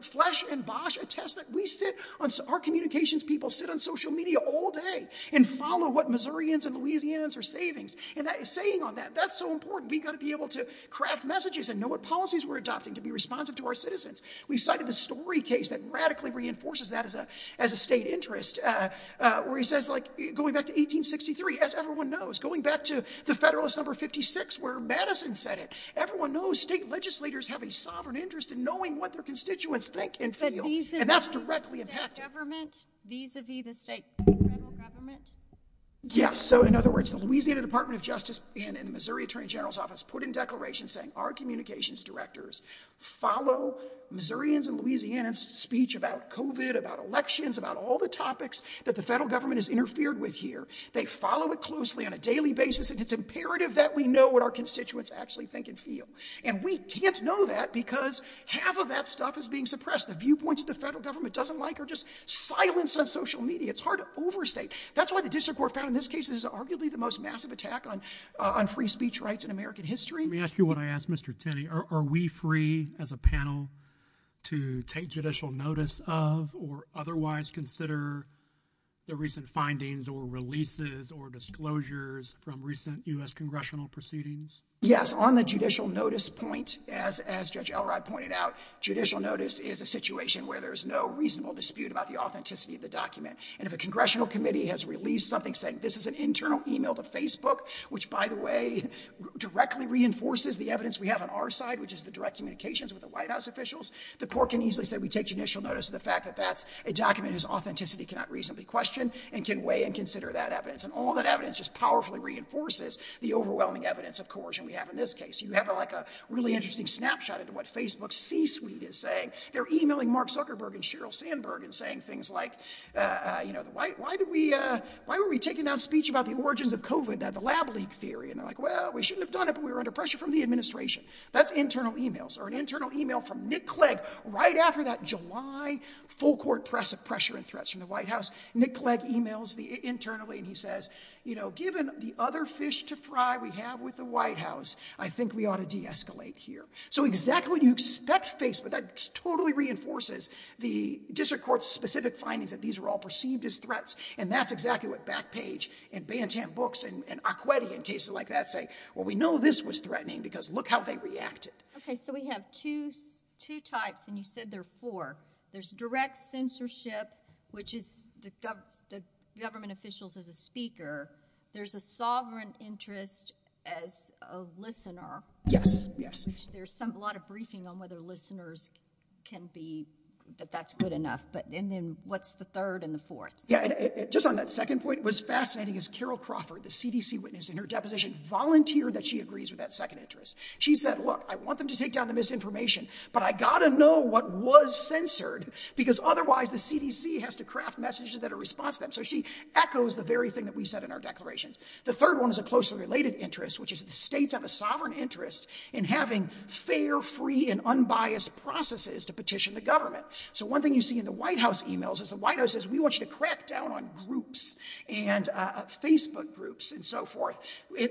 Flesch and Bosch attest that we sit on, our communications people sit on social media all day and follow what Missourians and Louisianans are saying on that. That's so important. We've got to be able to craft messages and know what policies we're adopting to be responsive to our citizens. We've cited a story case that radically reinforces that as a state interest, where he says, like, going back to 1863, as everyone knows, going back to the Federalist Number 56 where Madison said it. Everyone knows state legislators have a sovereign interest in knowing what their constituents think and feel. And that's directly impacted. Yes. So, in other words, the Louisiana Department of Justice and the Missouri Attorney General's Office put in declarations saying our communications directors follow Missourians and Louisianans' speech about COVID, about elections, about all the topics that the federal government has interfered with here. They follow it closely on a daily basis. It's imperative that we know what our constituents actually think and feel. And we can't know that because half of that stuff is being suppressed. The viewpoints that the federal government doesn't like are just silence of social media. It's hard to overstate. That's why the district court found in this case this is arguably the most massive attack on free speech rights in American history. Let me ask you what I asked Mr. Tenney. Are we free as a panel to take judicial notice of or otherwise consider the recent findings or releases or disclosures from recent U.S. congressional proceedings? Yes. On the judicial notice point, as Judge Elrod pointed out, judicial notice is a situation where there's no reasonable dispute about the authenticity of the document. And if a congressional committee has released something saying this is an internal email to Facebook, which, by the way, directly reinforces the evidence we have on our side, which is the direct communications with the White House officials, the court can easily say we take judicial notice of the fact that that's a document whose authenticity cannot reasonably question and can weigh and consider that evidence. And all that evidence just powerfully reinforces the overwhelming evidence of coercion we have in this case. You have like a really interesting snapshot of what Facebook's C-suite is saying. They're emailing Mark Zuckerberg and Sheryl Sandberg and saying things like, you know, why do we, why were we taking down speech about the origins of COVID and the lab leak theory? And they're like, well, we shouldn't have done it, but we were under pressure from the administration. That's internal emails or an internal email from Nick Clegg right after that July full court press of pressure and threats from the White House. Nick Clegg emails me internally and he says, you know, given the other fish to fry we have with the White House, I think we ought to deescalate here. So exactly, that's Facebook. That totally reinforces the district court's specific findings that these are all perceived as threats. And that's exactly what Backpage and Bantam Books and Acqueti in cases like that say, well, we know this was threatening because look how they reacted. Okay. So we have two types and you said there are four. There's direct censorship, which is the government officials as a speaker. There's a sovereign interest as a listener. There's a lot of briefing on whether listeners can be, but that's good enough. But then what's the third and the fourth? Just on that second point, what's fascinating is Carol Crawford, the CDC witness in her deposition volunteered that she agrees with that second interest. She said, look, I want them to take down the misinformation, but I got to know what was censored because otherwise the CDC has to craft messages that are responsive. So she echoes the very thing that we said in our declaration. The third one is a closely related interest, which is the state of a sovereign interest in having fair, free and unbiased processes to petition the government. So one thing you see in the White House emails is the White House says, we want you to crack down on groups and Facebook groups and so forth.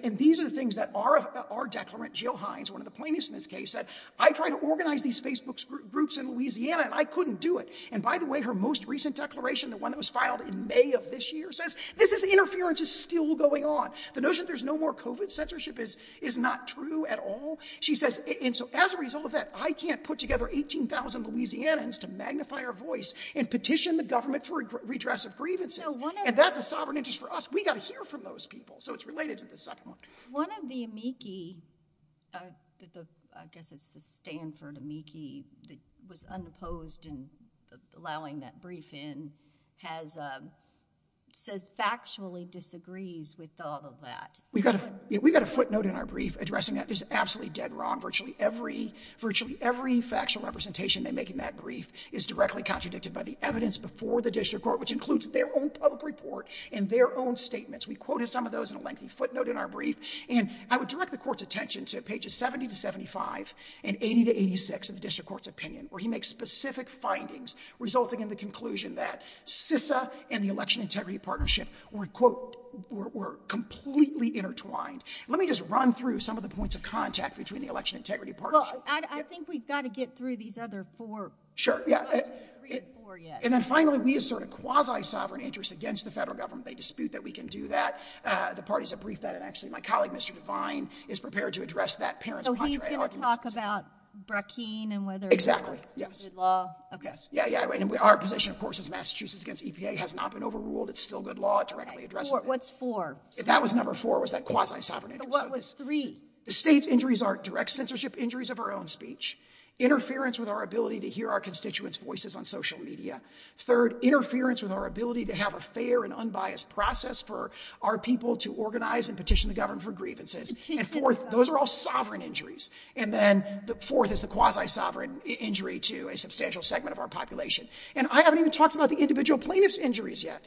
And these are the things that are our declarant, Jill Hines, one of the plaintiffs in this case, that I tried to organize these Facebook groups in Louisiana and I couldn't do it. And by the way, her most recent declaration, the one that was filed in May of this year says, this is the interference is still going on. The notion that there's no more COVID censorship is, is not true at all. She says, and so as a result of that, I can't put together 18,000 Louisianans to magnify her voice and petition the government for redress of grievance. And that's a sovereign interest for us. We got to hear from those people. So it's related to the second one. One of the amici, I guess it's the Stanford amici, was unopposed in allowing that brief in, has said factually disagrees with all of that. We've got a footnote in our brief addressing that. There's absolutely dead wrong. Virtually every factual representation in making that brief is directly contradicted by the evidence before the district court, which includes their own public report and their own statements. We quoted some of those in a lengthy footnote in our brief, and I would direct the court's attention to pages 70 to 75 and 80 to 86 of the district court's opinion, where he makes specific findings resulting in the conclusion that CISA and the election integrity partnership were, quote, were completely intertwined. Let me just run through some of the points of contact between the election integrity partnership. I think we've got to get through these other four. Sure. And then finally, we assert a quasi-sovereign interest against the federal government. They dispute that we can do that. The parties have briefed that, and actually my colleague, Mr. Levine, is prepared to address that. So he can talk about Brookings and whether it's good law. Okay. Yeah, yeah, right. And our position, of course, is Massachusetts against EPA has not been overruled. It's still good law directly addressed. What's four? If that was number four, it was that quasi-sovereign interest. What was three? The state's injuries are direct censorship, injuries of our own speech, interference with our ability to hear our constituents' voices on social media. Third, interference with our ability to have a fair and unbiased process for our people to organize and petition the government for grievances. And fourth, those are all sovereign injuries. And then the fourth is the quasi-sovereign injury to a substantial segment of our population. And I haven't even talked about the individual plaintiff's injuries yet.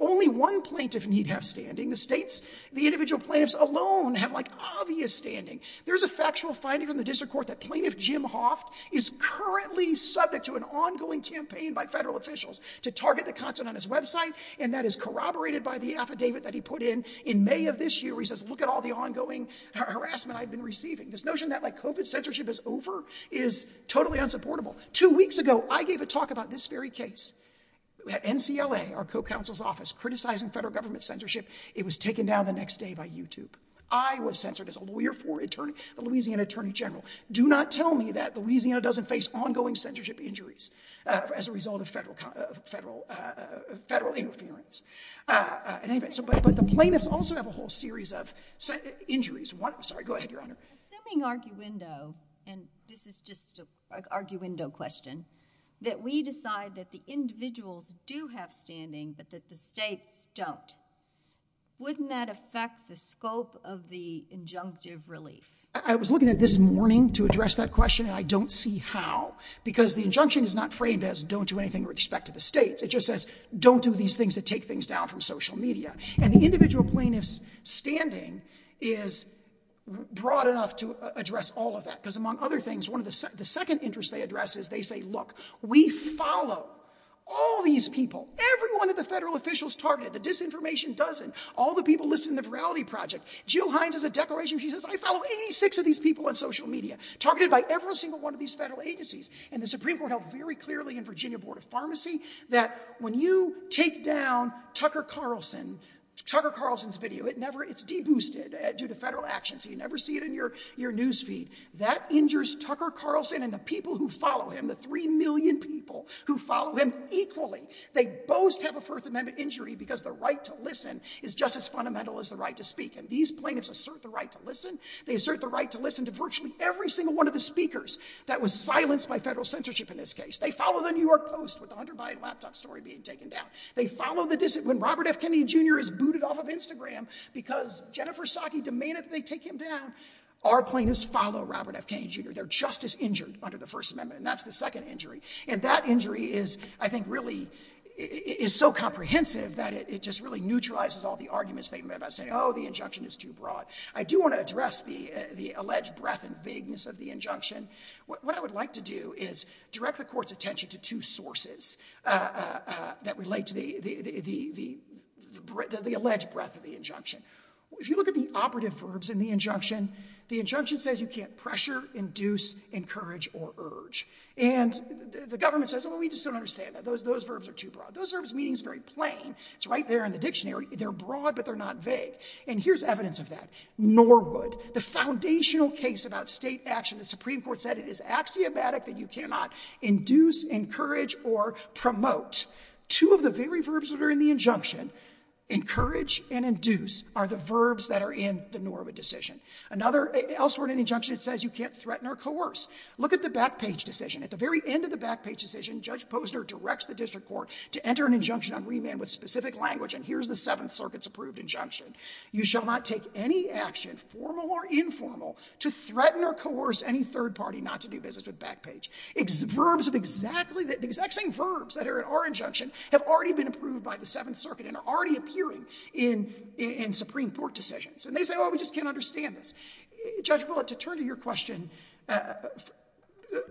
Only one plaintiff need have standing. The states, the individual plaintiffs alone have like obvious standing. There's a factual finding in the district court that Plaintiff Jim Hoff is currently subject to an ongoing campaign by federal officials to target the content on his website, and that is corroborated by the affidavit that he put in in May of this year. He says, look at all the ongoing harassment I've been receiving. This notion that my COVID censorship is over is totally unsupportable. Two weeks ago, I gave a talk about this very case at NCLA, our co-counsel's office, criticizing federal government censorship. It was taken down the next day by YouTube. I was censored as a lawyer for attorney, a Louisiana attorney general. Do not tell me that Louisiana doesn't face ongoing censorship injuries as a result of federal interference. But the plaintiffs also have a whole series of injuries. Go ahead, Your Honor. Assuming arguendo, and this is just an arguendo question, that we decide that the individuals do have standing, but that the states don't, wouldn't that affect the scope of the injunctive relief? I was looking at this morning to address that question, and I don't see how, because the injunction is not framed as don't do anything with respect to the states. It just says, don't do these things that take things down from social media. And the individual plaintiff's standing is broad enough to address all of that, because among other things, one of the second interests they address is they say, look, we follow all these people. Every one of the federal officials targeted, the disinformation doesn't. All the people listed in the morality project. Jill Hines has a declaration. She says, I follow 86 of these people on social media, targeted by every single one of these federal agencies. And the Supreme Court held very clearly in Virginia Board of Pharmacy, that when you take down Tucker Carlson, Tucker Carlson's video, it never, it's de-boosted due to federal actions. You never see it in your, your newsfeed that injures Tucker Carlson and the people who follow him, the 3 million people who follow him equally. They both have a first amendment injury because the right to listen is just as fundamental as the right to speak. And these plaintiffs assert the right to listen. They assert the right to listen to virtually every single one of the speakers that was silenced by federal censorship. In this case, they follow the New York Post with 100 by a laptop story being taken down. They follow the, when Robert F. Kennedy Jr. is booted off of Instagram because Jennifer Psaki demanded they take him down, our plaintiffs follow Robert F. Kennedy Jr. They're just as injured under the first amendment. And that's the second injury. And that injury is, I think really is so comprehensive that it just really neutralizes all the arguments. They may not say, the injunction is too broad. I do want to address the, the alleged breadth and vagueness of the injunction. What I would like to do is direct the court's attention to two sources that relate to the, the alleged breadth of the injunction. If you look at the operative verbs in the injunction, the injunction says you can't pressure, encourage, or urge. And the government says, well, we just don't understand that. Those verbs are too broad. Those verbs mean it's very plain. It's right there in the dictionary. They're broad, but they're not vague. And here's evidence of that. Nor would the foundational case about state action, the Supreme Court said it is axiomatic that you cannot induce, or promote. Two of the very verbs that are in the injunction, encourage and induce, are the verbs that are in the Norwood decision. Another, elsewhere in the injunction, it says you can't threaten or coerce. Look at the back page decision. At the very end of the back page decision, Judge Posner directs the district court to enter an injunction on remand with specific language. And here's the seventh circuit's approved injunction. You shall not take any action, formal or informal, to threaten or coerce any third party not to do business with the back page. The exact same verbs that are in our injunction have already been approved by the seventh circuit and are already appearing in Supreme Court decisions. And they say, we just can't understand this. Judge Bullard, to turn to your question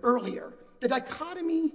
earlier, the dichotomy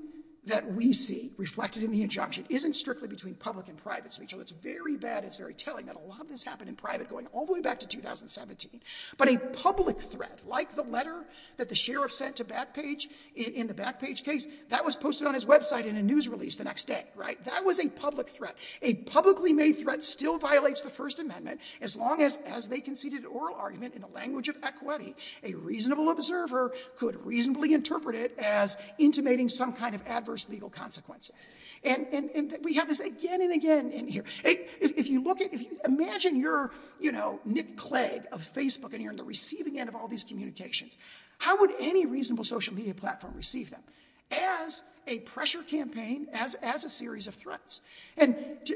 that we see reflected in the injunction isn't strictly between public and private speech. So it's very bad, it's very telling that a lot of this happened in private going all the way back to 2017. But a public threat, like the letter that the sheriff sent to Backpage in the Backpage case, that was posted on his website in a news release the next day, right? That was a public threat. A publicly made threat still violates the First Amendment as long as they conceded an oral argument in the language of equity. A reasonable observer could reasonably interpret it as intimating some kind of adverse legal consequence. And we have this again and again in here. Imagine you're Nick Clegg of Facebook and you're on the receiving end of all these communications. How would any reasonable social media platform receive them? As a pressure campaign, as a series of threats. And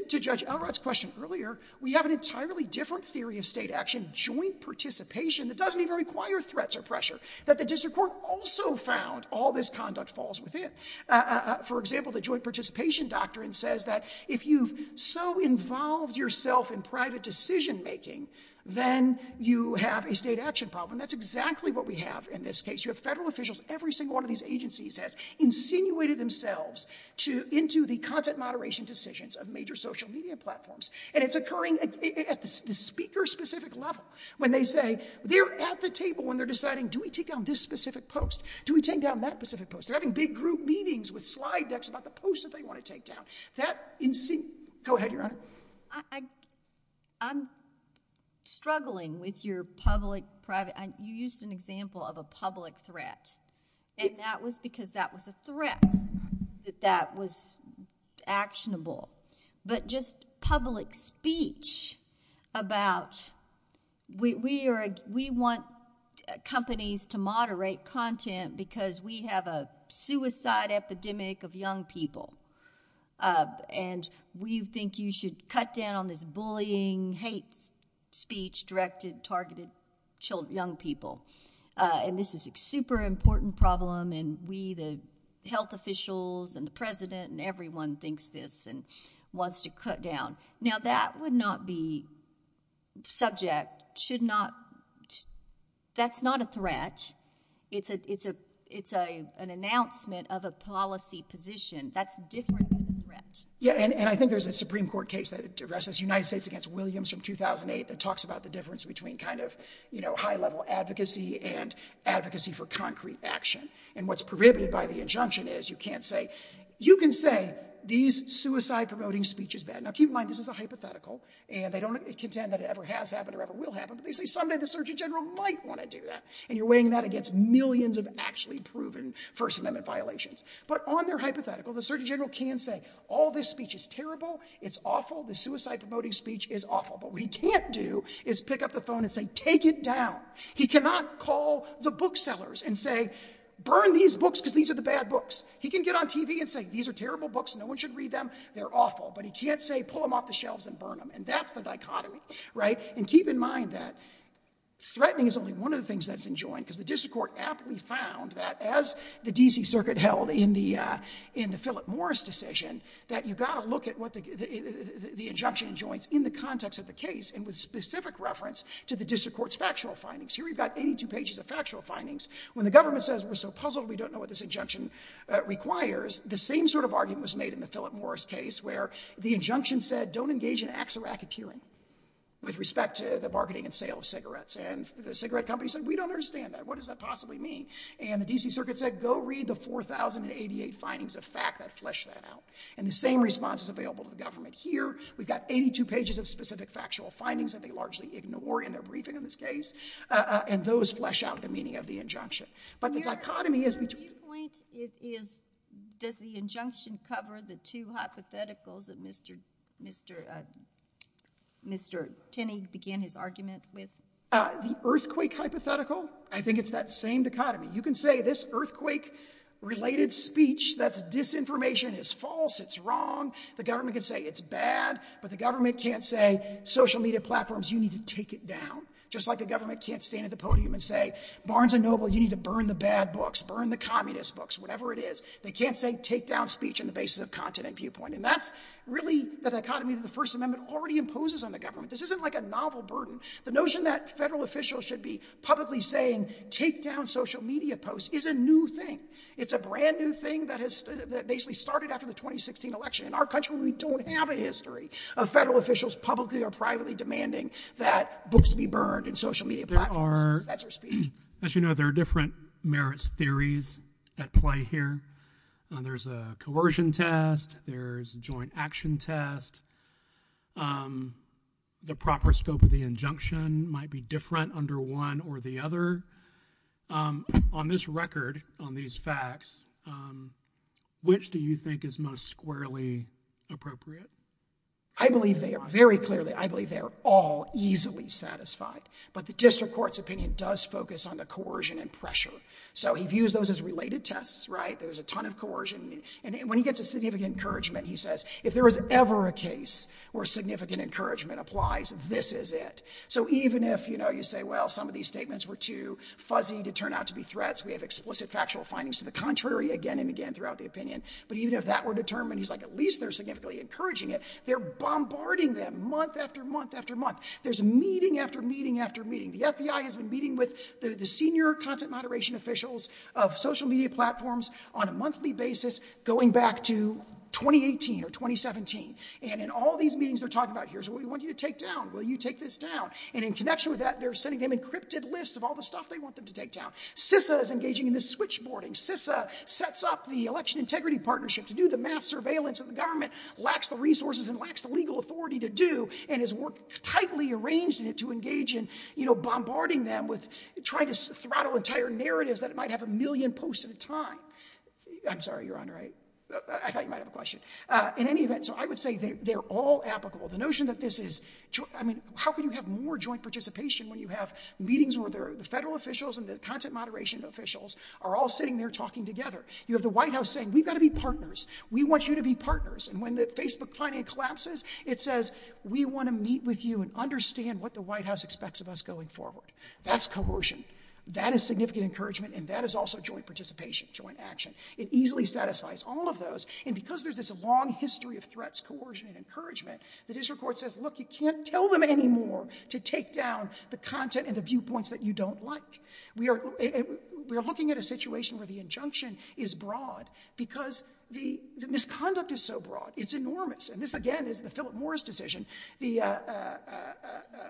to Judge Elrod's question earlier, we have an entirely different theory of state action, joint participation, that doesn't even require threats or pressure, that the district court also found all this conduct falls within. For example, the Joint Participation Doctrine says that if you've so involved yourself in private decision-making, then you have a state action problem. That's exactly what we have in this case. You have federal officials, every single one of these agencies that insinuated themselves into the content moderation decisions of major social media platforms. And it's occurring at the speaker-specific level when they say, they're at the table when they're deciding, do we take down this specific post? Do we take down that specific post? They're having big group meetings with slide decks about the post that they want to take down. Go ahead, Your Honor. I'm struggling with your public-private. You used an example of a public threat. And that was because that was a threat, that that was actionable. But just public speech about we want companies to moderate content because we have a suicide epidemic of young people. And we think you should cut down this bullying, hate speech directed at targeted young people. And this is a super important problem. And we, the health officials, and the president, and everyone thinks this and wants to cut down. Now, that would not be subject. That's not a threat. It's an announcement of a policy position. That's different than a threat. Yeah, and I think there's a Supreme Court case that addresses United States against Williams from 2008 that talks about the difference between kind of, you know, high-level advocacy and advocacy for concrete action. And what's prohibited by the injunction is you can't say, you can say these suicide-promoting speeches, now keep in mind this is a hypothetical, and they don't contend that it ever has happened or ever will happen. They say someday the Surgeon General might want to do that. And you're weighing that against millions of actually proven First Amendment violations. But on their hypothetical, the Surgeon General can say, all this speech is terrible, it's awful, the suicide-promoting speech is awful. But what he can't do is pick up the phone and say, take it down. He cannot call the booksellers and say, burn these books because these are the bad books. He can get on TV and say, these are terrible books, no one should read them, they're awful. But he can't say, pull them off the shelves and burn them. And that's the dichotomy, right? And keep in mind that threatening is only one of the things that has been joined, because the district court aptly found that as the D.C. Circuit held in the Philip Morris decision, that you've got to look at what the injunction joins in the context of the case and with specific reference to the district court's factual findings. Here we've got 82 pages of factual findings. When the government says, we're so puzzled, we don't know what this injunction requires, the same sort of argument was made in the Philip Morris case where the government said, we don't understand that. What does that possibly mean? And the D.C. Circuit said, go read the 4,088 findings of FACA, flesh that out. And the same response is available to the government here. We've got 82 pages of specific factual findings that they largely ignore in their briefing in this case. And those flesh out the meaning of the injunction. But the dichotomy is between. Does the injunction cover the two hypotheticals that Mr. Kinney began his argument with? The earthquake hypothetical? I think it's that same dichotomy. You can say this earthquake-related speech, that's disinformation, is false, it's wrong. The government can say it's bad. But the government can't say, social media platforms, you need to take it down. Just like the government can't stand at the podium and say, Barnes & Noble, you need to burn the bad books, burn the communist books, whatever it is. They can't say, take down speech on the basis of content and viewpoint. And that's really the dichotomy that the First Amendment already imposes on the government. This isn't like a novel burden. The notion that federal officials should be publicly saying, take down social media posts is a new thing. It's a brand new thing that basically started after the 2016 election. In our country, we don't have a history of federal officials publicly or privately demanding that books be burned and social media platforms. That's their speech. As you know, there are different merits theories at play here. There's a coercion test. There's a joint action test. The proper scope of the injunction might be different under one or the other. On this record, on these facts, which do you think is most squarely appropriate? I believe they are. Very clearly, I believe they are all easily satisfied. But the district court's opinion does focus on the coercion and pressure. So he views those as related tests, right? There's a ton of coercion. And when he gets a significant encouragement, he says, if there is ever a case where significant encouragement applies, this is it. So even if you say, well, some of these statements were too fuzzy to turn out to be threats, we have explicit factual findings to the contrary again and again throughout the opinion. But even if that were determined, he's like at least they're significantly encouraging it. They're bombarding them month after month after month. There's meeting after meeting after meeting. The FBI has been meeting with the senior transit moderation officials of social media platforms on a monthly basis going back to 2018 or 2017. And in all these meetings they're talking about, here's what we want you to take down. Will you take this down? And in connection with that, they're sending them encrypted lists of all the stuff they want them to take down. CISA is engaging in this switchboarding. CISA sets up the election integrity partnership to do the mass surveillance that the government lacks the resources and lacks the legal authority to do and has worked tightly arranged to engage in bombarding them with trying to get them to do it. I'm sorry, Your Honor, I thought you might have a question. In any event, so I would say they're all applicable. The notion that this is, I mean, how can you have more joint participation when you have meetings where the federal officials and the content moderation officials are all sitting there talking together? You have the White House saying, we've got to be partners. We want you to be partners. And when the Facebook finance collapses, it says we want to meet with you and understand what the White House expects of us going forward. That's coercion. That is significant encouragement and that is also joint participation, joint action. It easily satisfies all of those. And because there's this long history of threats, coercion and encouragement, the district court says, look, you can't tell them anymore to take down the content and the viewpoints that you don't like. We are looking at a situation where the injunction is broad because the misconduct is so broad. It's enormous. And this, is the Philip Morris decision. The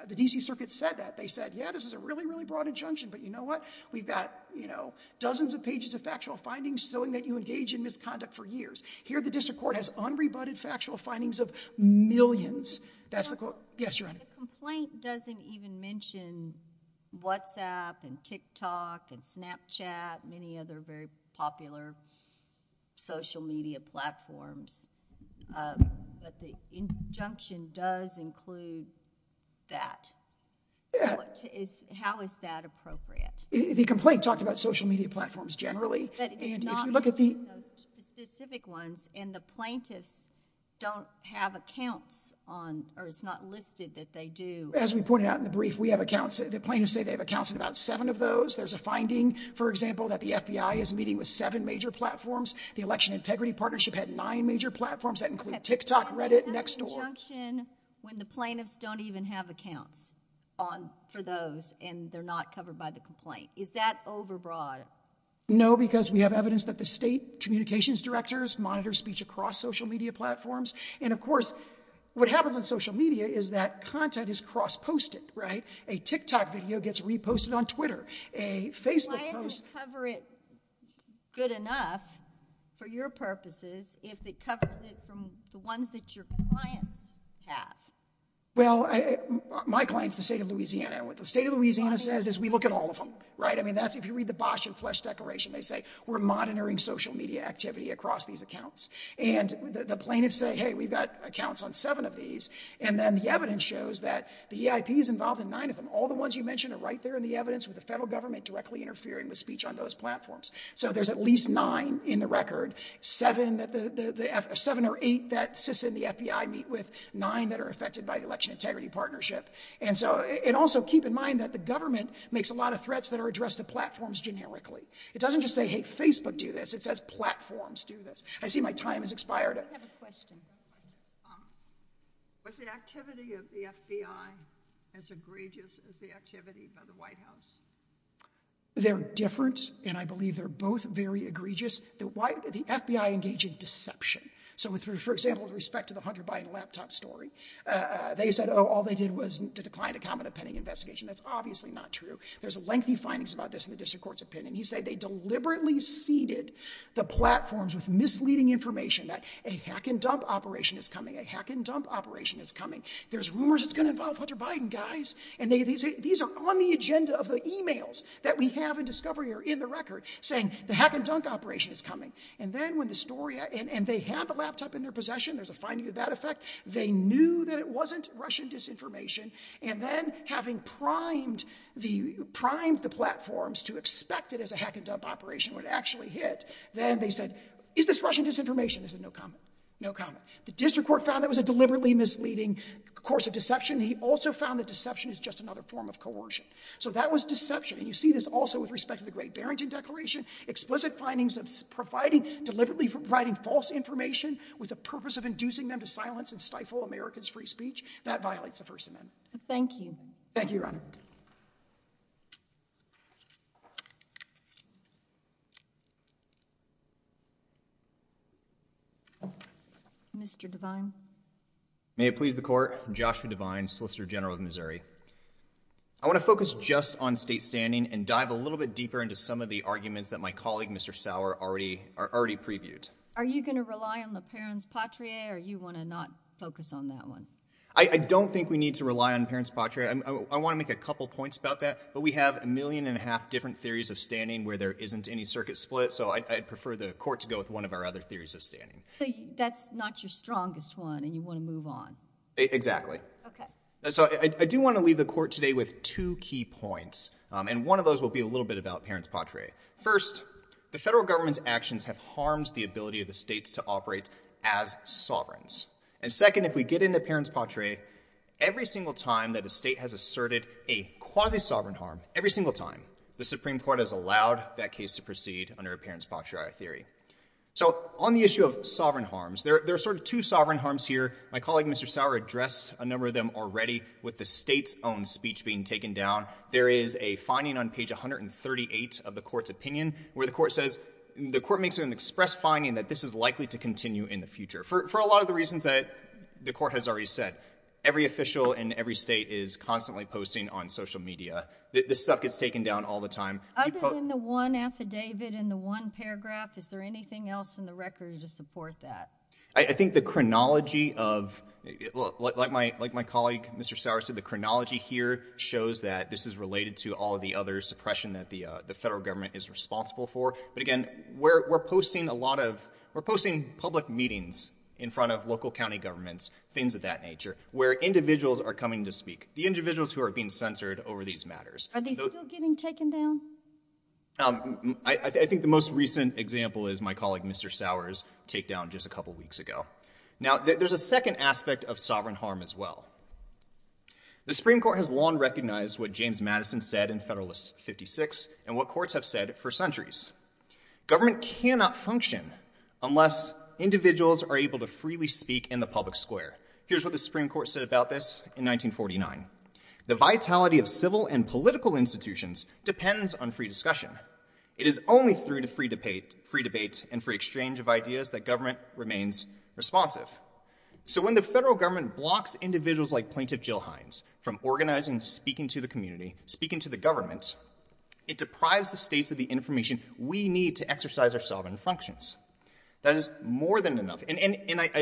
DC circuit said that. They said, yeah, this is a really, really broad injunction, but you know what? We've got, you know, dozens of pages of factual findings showing that you engage in misconduct for years. Here, the district court has unrebutted factual findings of millions. That's the court. Yes, you're on it. Complaint doesn't even mention WhatsApp and Tik Tok and Snapchat, many other very popular social media platforms. The injunction does include that. How is that appropriate? The complaint talked about social media platforms, generally. And if you look at the. Specific ones, and the plaintiffs don't have accounts on, or it's not listed that they do. As we pointed out in the brief, we have accounts. The plaintiffs say they have accounts in about seven of those. There's a finding, for example, that the FBI is meeting with seven major platforms. The election integrity partnership had nine major platforms that include Tik Tok, Reddit, next door. When the plaintiffs don't even have accounts on for those, and they're not covered by the complaint. Is that overbroad? because we have evidence that the state communications directors monitor speech across social media platforms. And of course, what happens on social media is that content is cross posted, right? A Tik Tok video gets reposted on Twitter, a Facebook cover it. Good enough for your purposes. If it covers it from the ones that your clients have. Well, my clients, the state of Louisiana, the state of Louisiana says, as we look at all of them, right? I mean, that's if you read the Bosch and flesh decoration, they say we're monitoring social media activity across these accounts. And the plaintiffs say, we've got accounts on seven of these. And then the evidence shows that the IP is involved in nine of them. All the ones you mentioned are right there in the evidence with the federal government directly interfering with speech on those platforms. So there's at least nine in the record, seven that the seven or eight that sits in the FBI meet with nine that are affected by the election integrity partnership. And so, and also keep in mind that the government makes a lot of threats that are addressed to platforms. Generically. It doesn't just say, Hey, Facebook do this. It says platforms do this. I see my time is expired. I have a question. What's the activity of the FBI? It's egregious. It was the activity of the white house. There are different. And I believe they're both very egregious. The FBI engaging deception. So with, for example, respect to the Hunter Biden laptop story, they said, Oh, all they did was to decline a common opinion investigation. That's obviously not true. There's a lengthy findings about this in the district court's opinion. He said, they deliberately seeded the platforms with misleading information that a hack and dump operation is coming. A hack and dump operation is coming. There's rumors. It's going to involve Hunter Biden guys. And they, these are on the agenda of the emails that we have in discovery or in the And then when the story, and they have a laptop in their possession, there's a finding of that effect. They knew that it wasn't Russian disinformation. And then having primed the primed, the platforms to expect it as a hack and dump operation would actually hit. Then they said, is this Russian disinformation is a no comment. No comment. The district court found that was a deliberately misleading course of deception. He also found that deception is just another form of coercion. So that was deception. And you see this also with respect to the great Barrington declaration, explicit findings of providing deliberately writing false information with the purpose of inducing them to silence and stifle America's free speech. That violates the first amendment. Thank you. Thank you. Mr. May it please the court. I'm Joshua divine, solicitor general of Missouri. I want to focus just on state standing and dive a little bit deeper into some of the arguments that my colleague, Sauer already are already previewed. Are you going to rely on the parents Patria or you want to not focus on that one? I don't think we need to rely on parents. I want to make a couple of points about that, but we have a million and a half different theories of standing where there isn't any circuit split. So I prefer the court to go with one of our other theories of standing. That's not your strongest one and you want to move on. Exactly. Okay. So I do want to leave the court today with two key points. And one of those will be a little bit about parents. Patria first, the federal government's actions have harmed the ability of the states to operate as sovereigns. And second, if we get into parents Patria every single time that the state has asserted a quasi sovereign harm, every single time the Supreme court has allowed that case to proceed under appearance, Patriot theory. So on the issue of sovereign harms there, there are sort of two sovereign harms here. My colleague, Mr. Sauer addressed a number of them already with the state's own speech being taken down. There is a finding on page 138 of the court's opinion where the court says the court makes it an express finding that this is likely to continue in the future for, for a lot of the reasons that the court has already said, every official in every state is constantly posting on social media. This stuff gets taken down all the time. The one affidavit in the one paragraph. Is there anything else in the record to support that? I think the chronology of like my, like my colleague, Mr. Sauer said the chronology here shows that this is related to all of the other suppression that the, the federal government is responsible for. But again, we're, we're posting a lot of we're posting public meetings in front of local County governments, things of that nature where individuals are coming to speak, the individuals who are being censored over these matters. Are they still getting taken down? I think the most recent example is my colleague, Mr. Sauer's take down just a couple of weeks ago. Now there's a second aspect of sovereign harm as well. The Supreme court has long recognized what James Madison said in federalist 56 and what courts have said for centuries, government cannot function unless individuals are able to freely speak in the public square. Here's what the Supreme court said about this in 1949, the vitality of civil and political institutions depends on free discussion. It is only through the free debate, free debates and free exchange of ideas that government remains responsive. So when the federal government blocks individuals like plaintiff, Jill Hines from organizing, speaking to the community, speaking to the government, it deprives the states of the information we need to exercise our sovereign functions. That is more than enough. And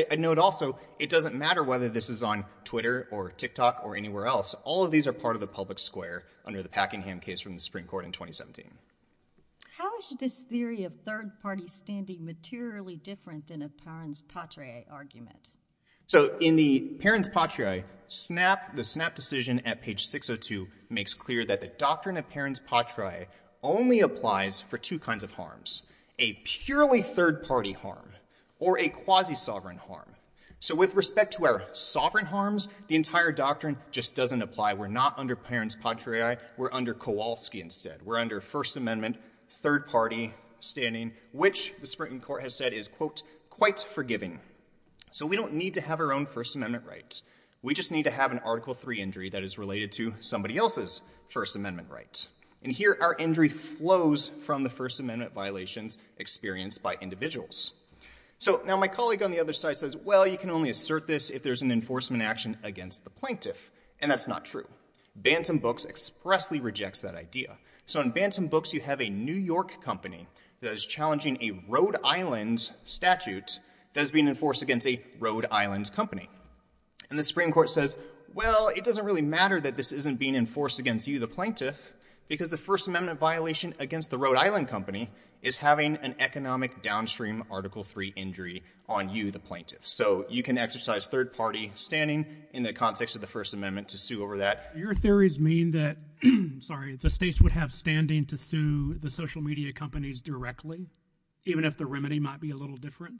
I know it also, it doesn't matter whether this is on Twitter or Tik TOK or anywhere else. All of these are part of the public square under the Packingham case from the Supreme court in 2017. How is this theory of third party standing materially different than a argument? So in the parents, Patria snap, the snap decision at page 602 makes clear that the doctrine of parents, Patria only applies for two kinds of harms, a purely third party harm or a quasi sovereign harm. So with respect to our sovereign harms, the entire doctrine just doesn't apply. We're not under parents. Contrary, we're under Kowalski instead we're under first amendment, third party standing, which the sprinting court has said is quite forgiving. So we don't need to have our own first amendment rights. We just need to have an article three injury that is related to somebody else's first amendment rights. And here are injury flows from the first amendment violations experienced by individuals. So now my colleague on the other side says, well, you can only assert this if there's an enforcement action against the plaintiff. And that's not true. Bantam books expressly rejects that idea. So in Bantam books, you have a New York company that is challenging a Rhode Island statute that has been enforced against the Rhode Island company. And the spring court says, well, it doesn't really matter that this isn't being enforced against you, the plaintiff, because the first amendment violation against the Rhode Island company is having an economic downstream article three injury on you, the plaintiff. So you can exercise third party standing in the context of the first amendment to sue over that. Your theories mean that, sorry, the states would have standing to sue the social media companies directly, even if the remedy might be a little different.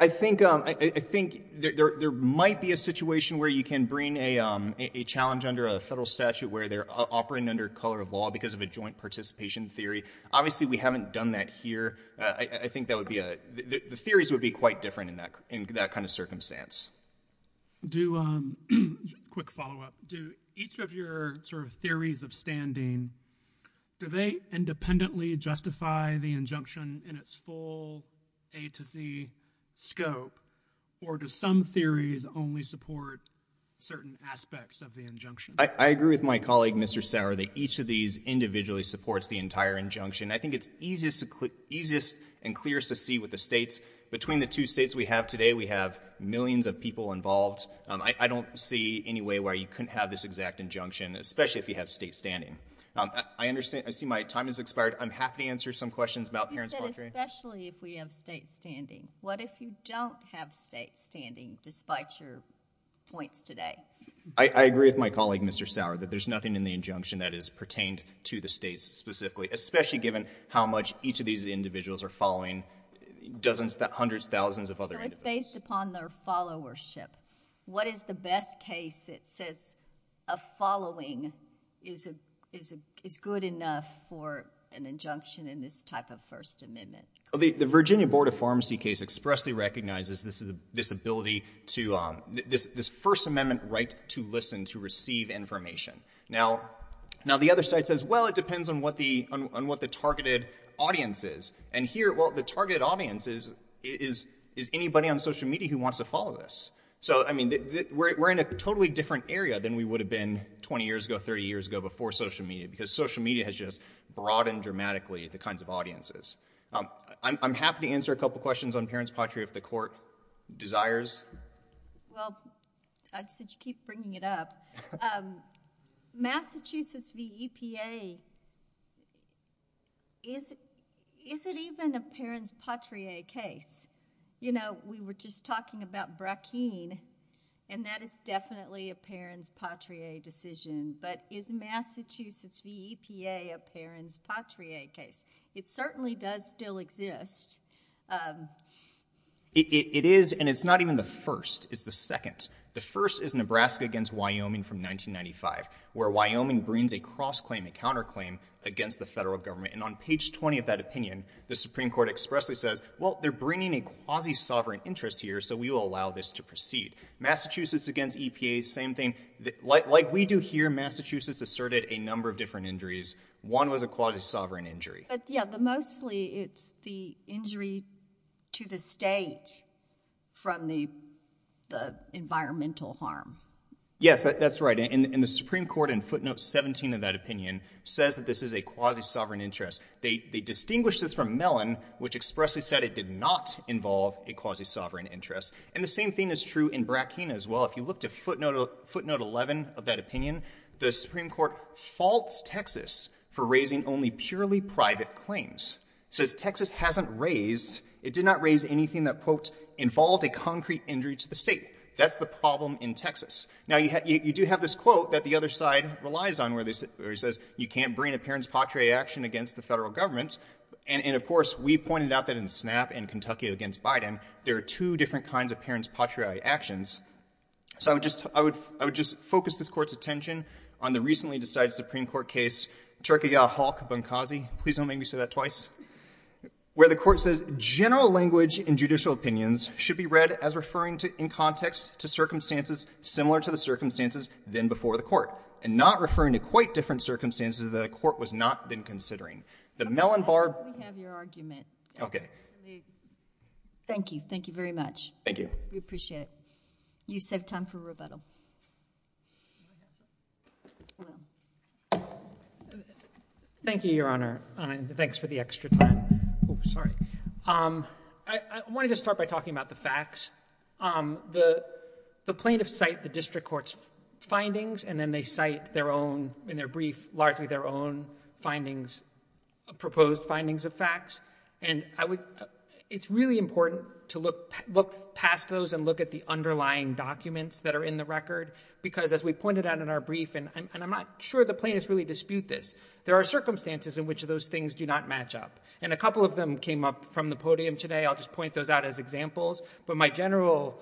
I think, I think there, there might be a situation where you can bring a, a challenge under a federal statute where they're operating under color of law because of a joint participation theory. Obviously we haven't done that here. I think that would be a, the theories would be quite different in that, in that kind of circumstance. Do a quick followup. Do each of your sort of theories of standing? Do they independently justify the injunction in its full A to Z scope? Or do some theories only support certain aspects of the injunction? I agree with my colleague, Mr. Sauer that each of these individually supports the entire injunction. I think it's easiest to click easiest and clearest to see what the states between the two states we have today, we have millions of people involved. I don't see any way where you couldn't have this exact injunction, especially if you have state standing. I understand, I see my time has expired. I'm happy to answer some questions about parents. Especially if we have state standing. What if you don't have state standing despite your points today? I agree with my colleague, Mr. Sauer, but there's nothing in the injunction that is pertained to the states specifically, especially given how much each of these individuals are following. Dozens, hundreds, thousands of other based upon their followership. What is the best case that says a following is good enough for an injunction in this type of First Amendment? The Virginia Board of Pharmacy case expressly recognizes this ability to, this First Amendment right to listen, to receive information. Now, the other side says, well it depends on what the targeted audience is. And here, the targeted audience is anybody on social media who wants to follow this. So, I mean, we're in a totally different area than we would have been 20 years ago, 30 years ago, before social media, because social media has just broadened dramatically the kinds of audiences. I'm happy to answer a couple of questions on parents, Patriot, the court desires. Well, I keep bringing it up. Massachusetts, the EPA. Is it even a parent's Patriot case? You know, we were just talking about Brackeen, and that is definitely a parent's Patriot decision. But is Massachusetts, the EPA, a parent's Patriot case? It certainly does still exist. It is, and it's not even the first, it's the second. The first is Nebraska against Wyoming from 1995, where Wyoming brings a cross-claim, a counterclaim against the federal government. And on page 20 of that opinion, the Supreme Court expressly says, well, they're bringing a quasi-sovereign interest here, so we will allow this to proceed. Massachusetts against EPA, same thing. Like we do here, Massachusetts asserted a number of different injuries. One was a quasi-sovereign injury. Yeah, but mostly it's the injury to the state from the environmental harm. Yes, that's right. And the Supreme Court, in footnotes 17 of that opinion, says that this is a quasi-sovereign interest. They distinguish this from Mellon, which expressly said it did not involve a quasi-sovereign interest. And the same thing is true in Bracken as well. If you look to footnote 11 of that opinion, the Supreme Court faults Texas for raising only purely private claims. So if Texas hasn't raised, it did not raise anything that, involved a concrete injury to the state. That's the problem in Texas. Now, you do have this quote that the other side relies on, where it says, you can't bring a parent's patria action against the federal government. And of course, we pointed out that in SNAP and Kentucky against Biden, there are two different kinds of parents' patria actions. So I would just focus this court's attention on the recently decided Supreme Court case, Cherokee Yaw Hawke Bunkazi, please don't make me say that twice, where the court says, general language in judicial opinions should be read as referring to, in context to circumstances similar to the circumstances then before the court, and not referring to quite different circumstances that a court was not been considering. The Mellon Bar- I would have your argument. Okay. Thank you. Thank you very much. Thank you. We appreciate it. You save time for rebuttal. Thank you, Your Honor. Thanks for the extra time. Oops, sorry. I wanted to start by talking about the facts. The plaintiffs cite the district court's findings, and then they cite their own, in their brief, largely their own findings, proposed findings of facts. And it's really important to look past those and look at the underlying documents that are in the record, because as we pointed out in our brief, and I'm not sure the plaintiffs really dispute this, there are circumstances in which those things do not match up. And a couple of them came up from the podium today. I'll just point those out as examples. But my general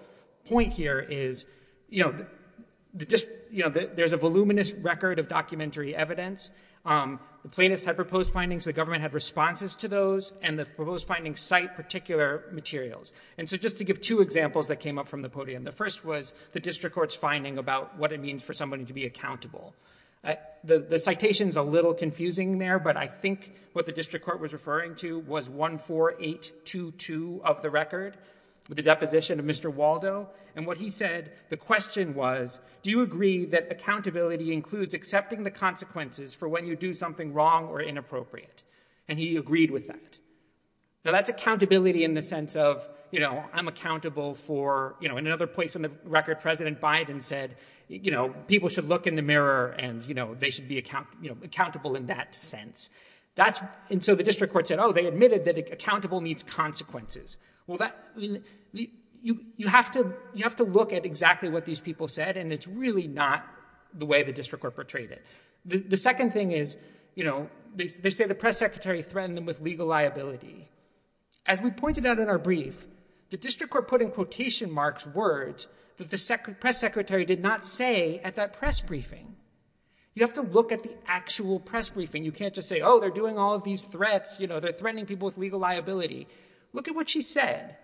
point here is, there's a voluminous record of documentary evidence. The plaintiffs had proposed findings, the government had responses to those, and the proposed findings cite particular materials. And so just to give two examples that came up from the podium, the first was the district court's finding about what it means for somebody to be accountable. The citation's a little confusing there, but I think what the district court was referring to was 14822 of the record, the deposition of Mr. Waldo. And what he said, the question was, do you agree that accountability includes accepting the consequences for when you do something wrong or inappropriate? And he agreed with that. So that's accountability in the sense of, you know, I'm accountable for, you know, in another place in the record, President Biden said, you know, people should look in the mirror and, you know, they should be accountable in that sense. And so the district court said, oh, they admitted that accountable needs consequences. Well, you have to look at exactly what these people said, and it's really not the way the district court portrayed it. The second thing is, you know, they say the press secretary threatened them with legal liability. As we pointed out in our brief, the district court put in quotation marks words that the press secretary did not say at that press briefing. You have to look at the actual press briefing. You can't just say, oh, they're doing all these threats, you know, they're threatening people with legal liability. Look at what she said.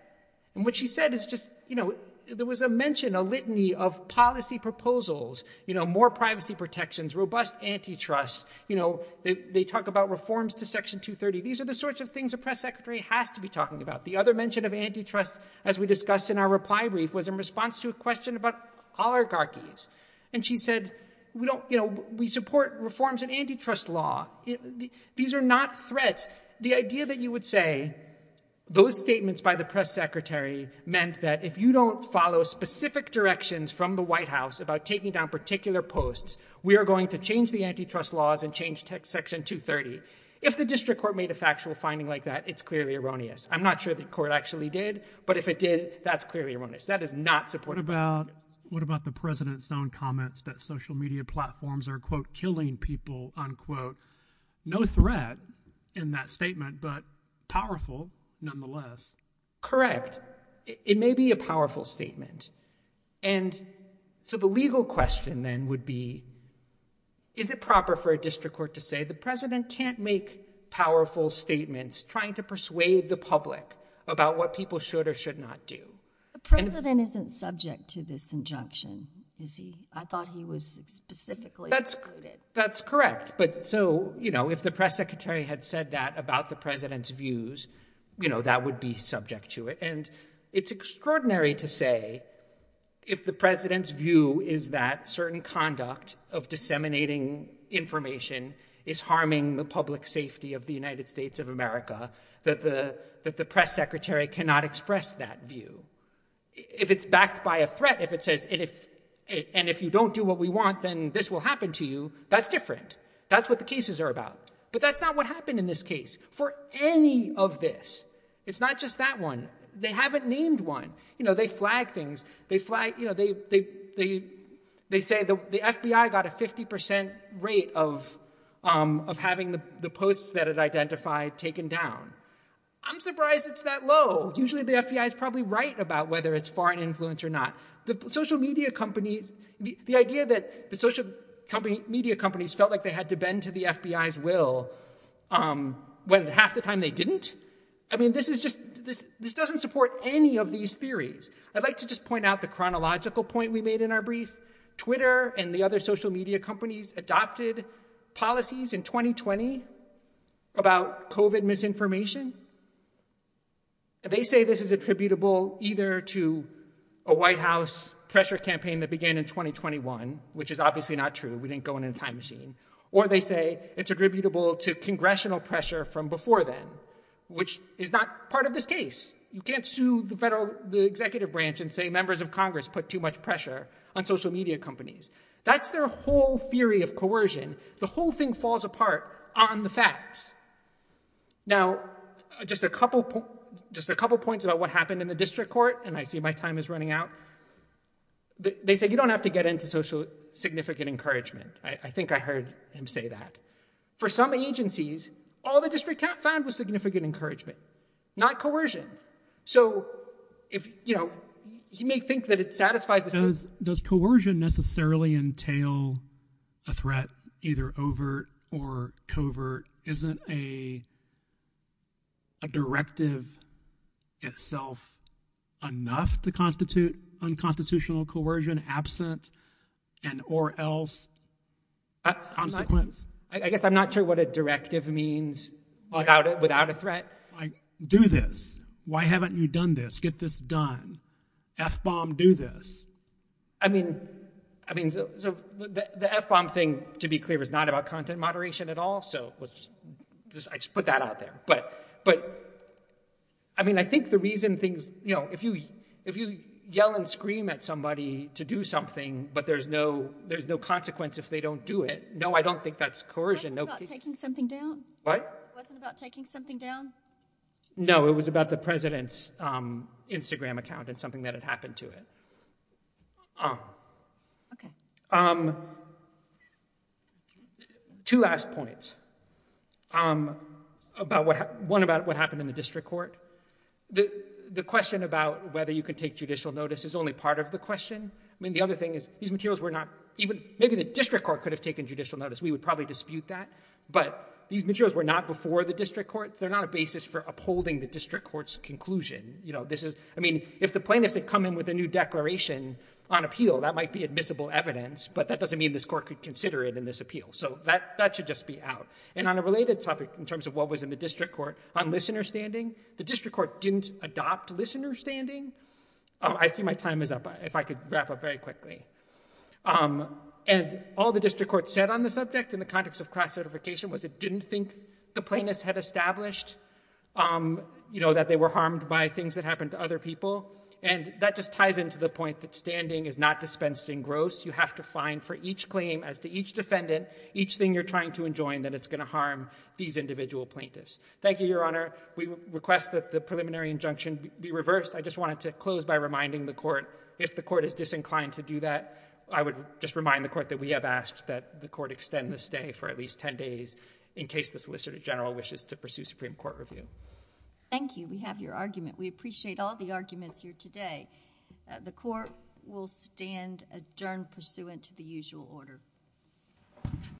And what she said is just, you know, there was a mention, a litany of policy proposals, you know, more privacy protections, robust antitrust. You know, they talk about reforms to Section 230. These are the sorts of things the press secretary has to be talking about. The other mention of antitrust, as we discussed in our reply brief, was in response to a question about oligarchies. And she said, you know, we support reforms in antitrust law. These are not threats. But the idea that you would say those statements by the press secretary meant that if you don't follow specific directions from the White House about taking down particular posts, we are going to change the antitrust laws and change Section 230. If the district court made a factual finding like that, it's clearly erroneous. I'm not sure the court actually did, but if it did, that's clearly erroneous. That is not support. What about the president's own comments that social media platforms are, quote, in that statement, but powerful nonetheless? It may be a powerful statement. And so the legal question then would be, is it proper for a district court to say the president can't make powerful statements trying to persuade the public about what people should or should not do? The president isn't subject to this injunction, is he? I thought he was specifically excluded. That's correct. But so, you know, if the press secretary had said that about the president's views, you know, that would be subject to it. And it's extraordinary to say if the president's view is that certain conduct of disseminating information is harming the public safety of the United States of America, that the press secretary cannot express that view. If it's backed by a threat, if it says, and if you don't do what we want, then this will happen to you, that's different. That's what the cases are about. But that's not what happened in this case. For any of this, it's not just that one. They haven't named one. You know, they flag things. They flag, you know, they say the FBI got a 50% rate of having the posts that it identified taken down. I'm surprised it's that low. Usually the FBI's probably right about whether it's foreign influence or not. The social media companies, the idea that the social media companies felt like they had to bend to the FBI's will when half the time they didn't. I mean, this is just, this doesn't support any of these theories. I'd like to just point out the chronological point we made in our brief. Twitter and the other social media companies adopted policies in 2020 about COVID misinformation. They say this is attributable either to a White House pressure campaign that began in 2021, which is obviously not true. We didn't go in a time machine. Or they say it's attributable to congressional pressure from before then, which is not part of this case. You can't sue the executive branch and say members of Congress put too much pressure on social media companies. That's their whole theory of coercion. The whole thing falls apart on the facts. Now, just a couple points about what happened in the district court, and I see my time is running out. They say you don't have to get into significant encouragement. I think I heard him say that. For some agencies, all the district court found was significant encouragement, not coercion. So if, you know, you may think that it satisfies the- Does coercion necessarily entail a threat either overt or covert? Isn't a directive itself enough to constitute unconstitutional coercion? Is it an absent and or else consequence? I guess I'm not sure what a directive means without a threat. Do this. Why haven't you done this? Get this done. FBOM, do this. I mean, the FBOM thing, to be clear, is not about content moderation at all, so I just put that out there. But I mean, I think the reason things, you know, if you yell and scream at somebody to do something, but there's no consequence if they don't do it, no, I don't think that's coercion. Wasn't it about taking something down? What? Wasn't it about taking something down? No, it was about the president's Instagram account and something that had happened to it. Okay. Two last points. One about what happened in the district court. The question about whether you can take judicial notice is only part of the question. I mean, the other thing is these materials were not even, maybe the district court could have taken judicial notice. We would probably dispute that, but these materials were not before the district court. They're not a basis for upholding the district court's conclusion. You know, this is, I mean, if the plaintiff had come in with a new declaration on appeal, that might be admissible evidence, but that doesn't mean this court could consider it in this appeal. So that should just be out. And on a related topic, in terms of what was in the district court, on listener standing, the district court didn't adopt listener standing. Oh, I see my time is up. If I could wrap up very quickly. And all the district court said on the subject in the context of class certification was it didn't think the plaintiffs had established, you know, that they were harmed by things that happened to other people. And that just ties into the point that standing is not dispensed in gross. You have to find for each claim as to each defendant, each thing you're trying to enjoin, that it's going to harm these individual plaintiffs. Thank you, Your Honor. We request that the preliminary injunction be reversed. I just wanted to close by reminding the court if the court is disinclined to do that, I would just remind the court that we have asked that the court extend the stay for at least 10 days in case the Solicitor General wishes to pursue Supreme Court review. Thank you. We have your argument. We appreciate all the arguments here today. The court will stand adjourned pursuant to the usual order.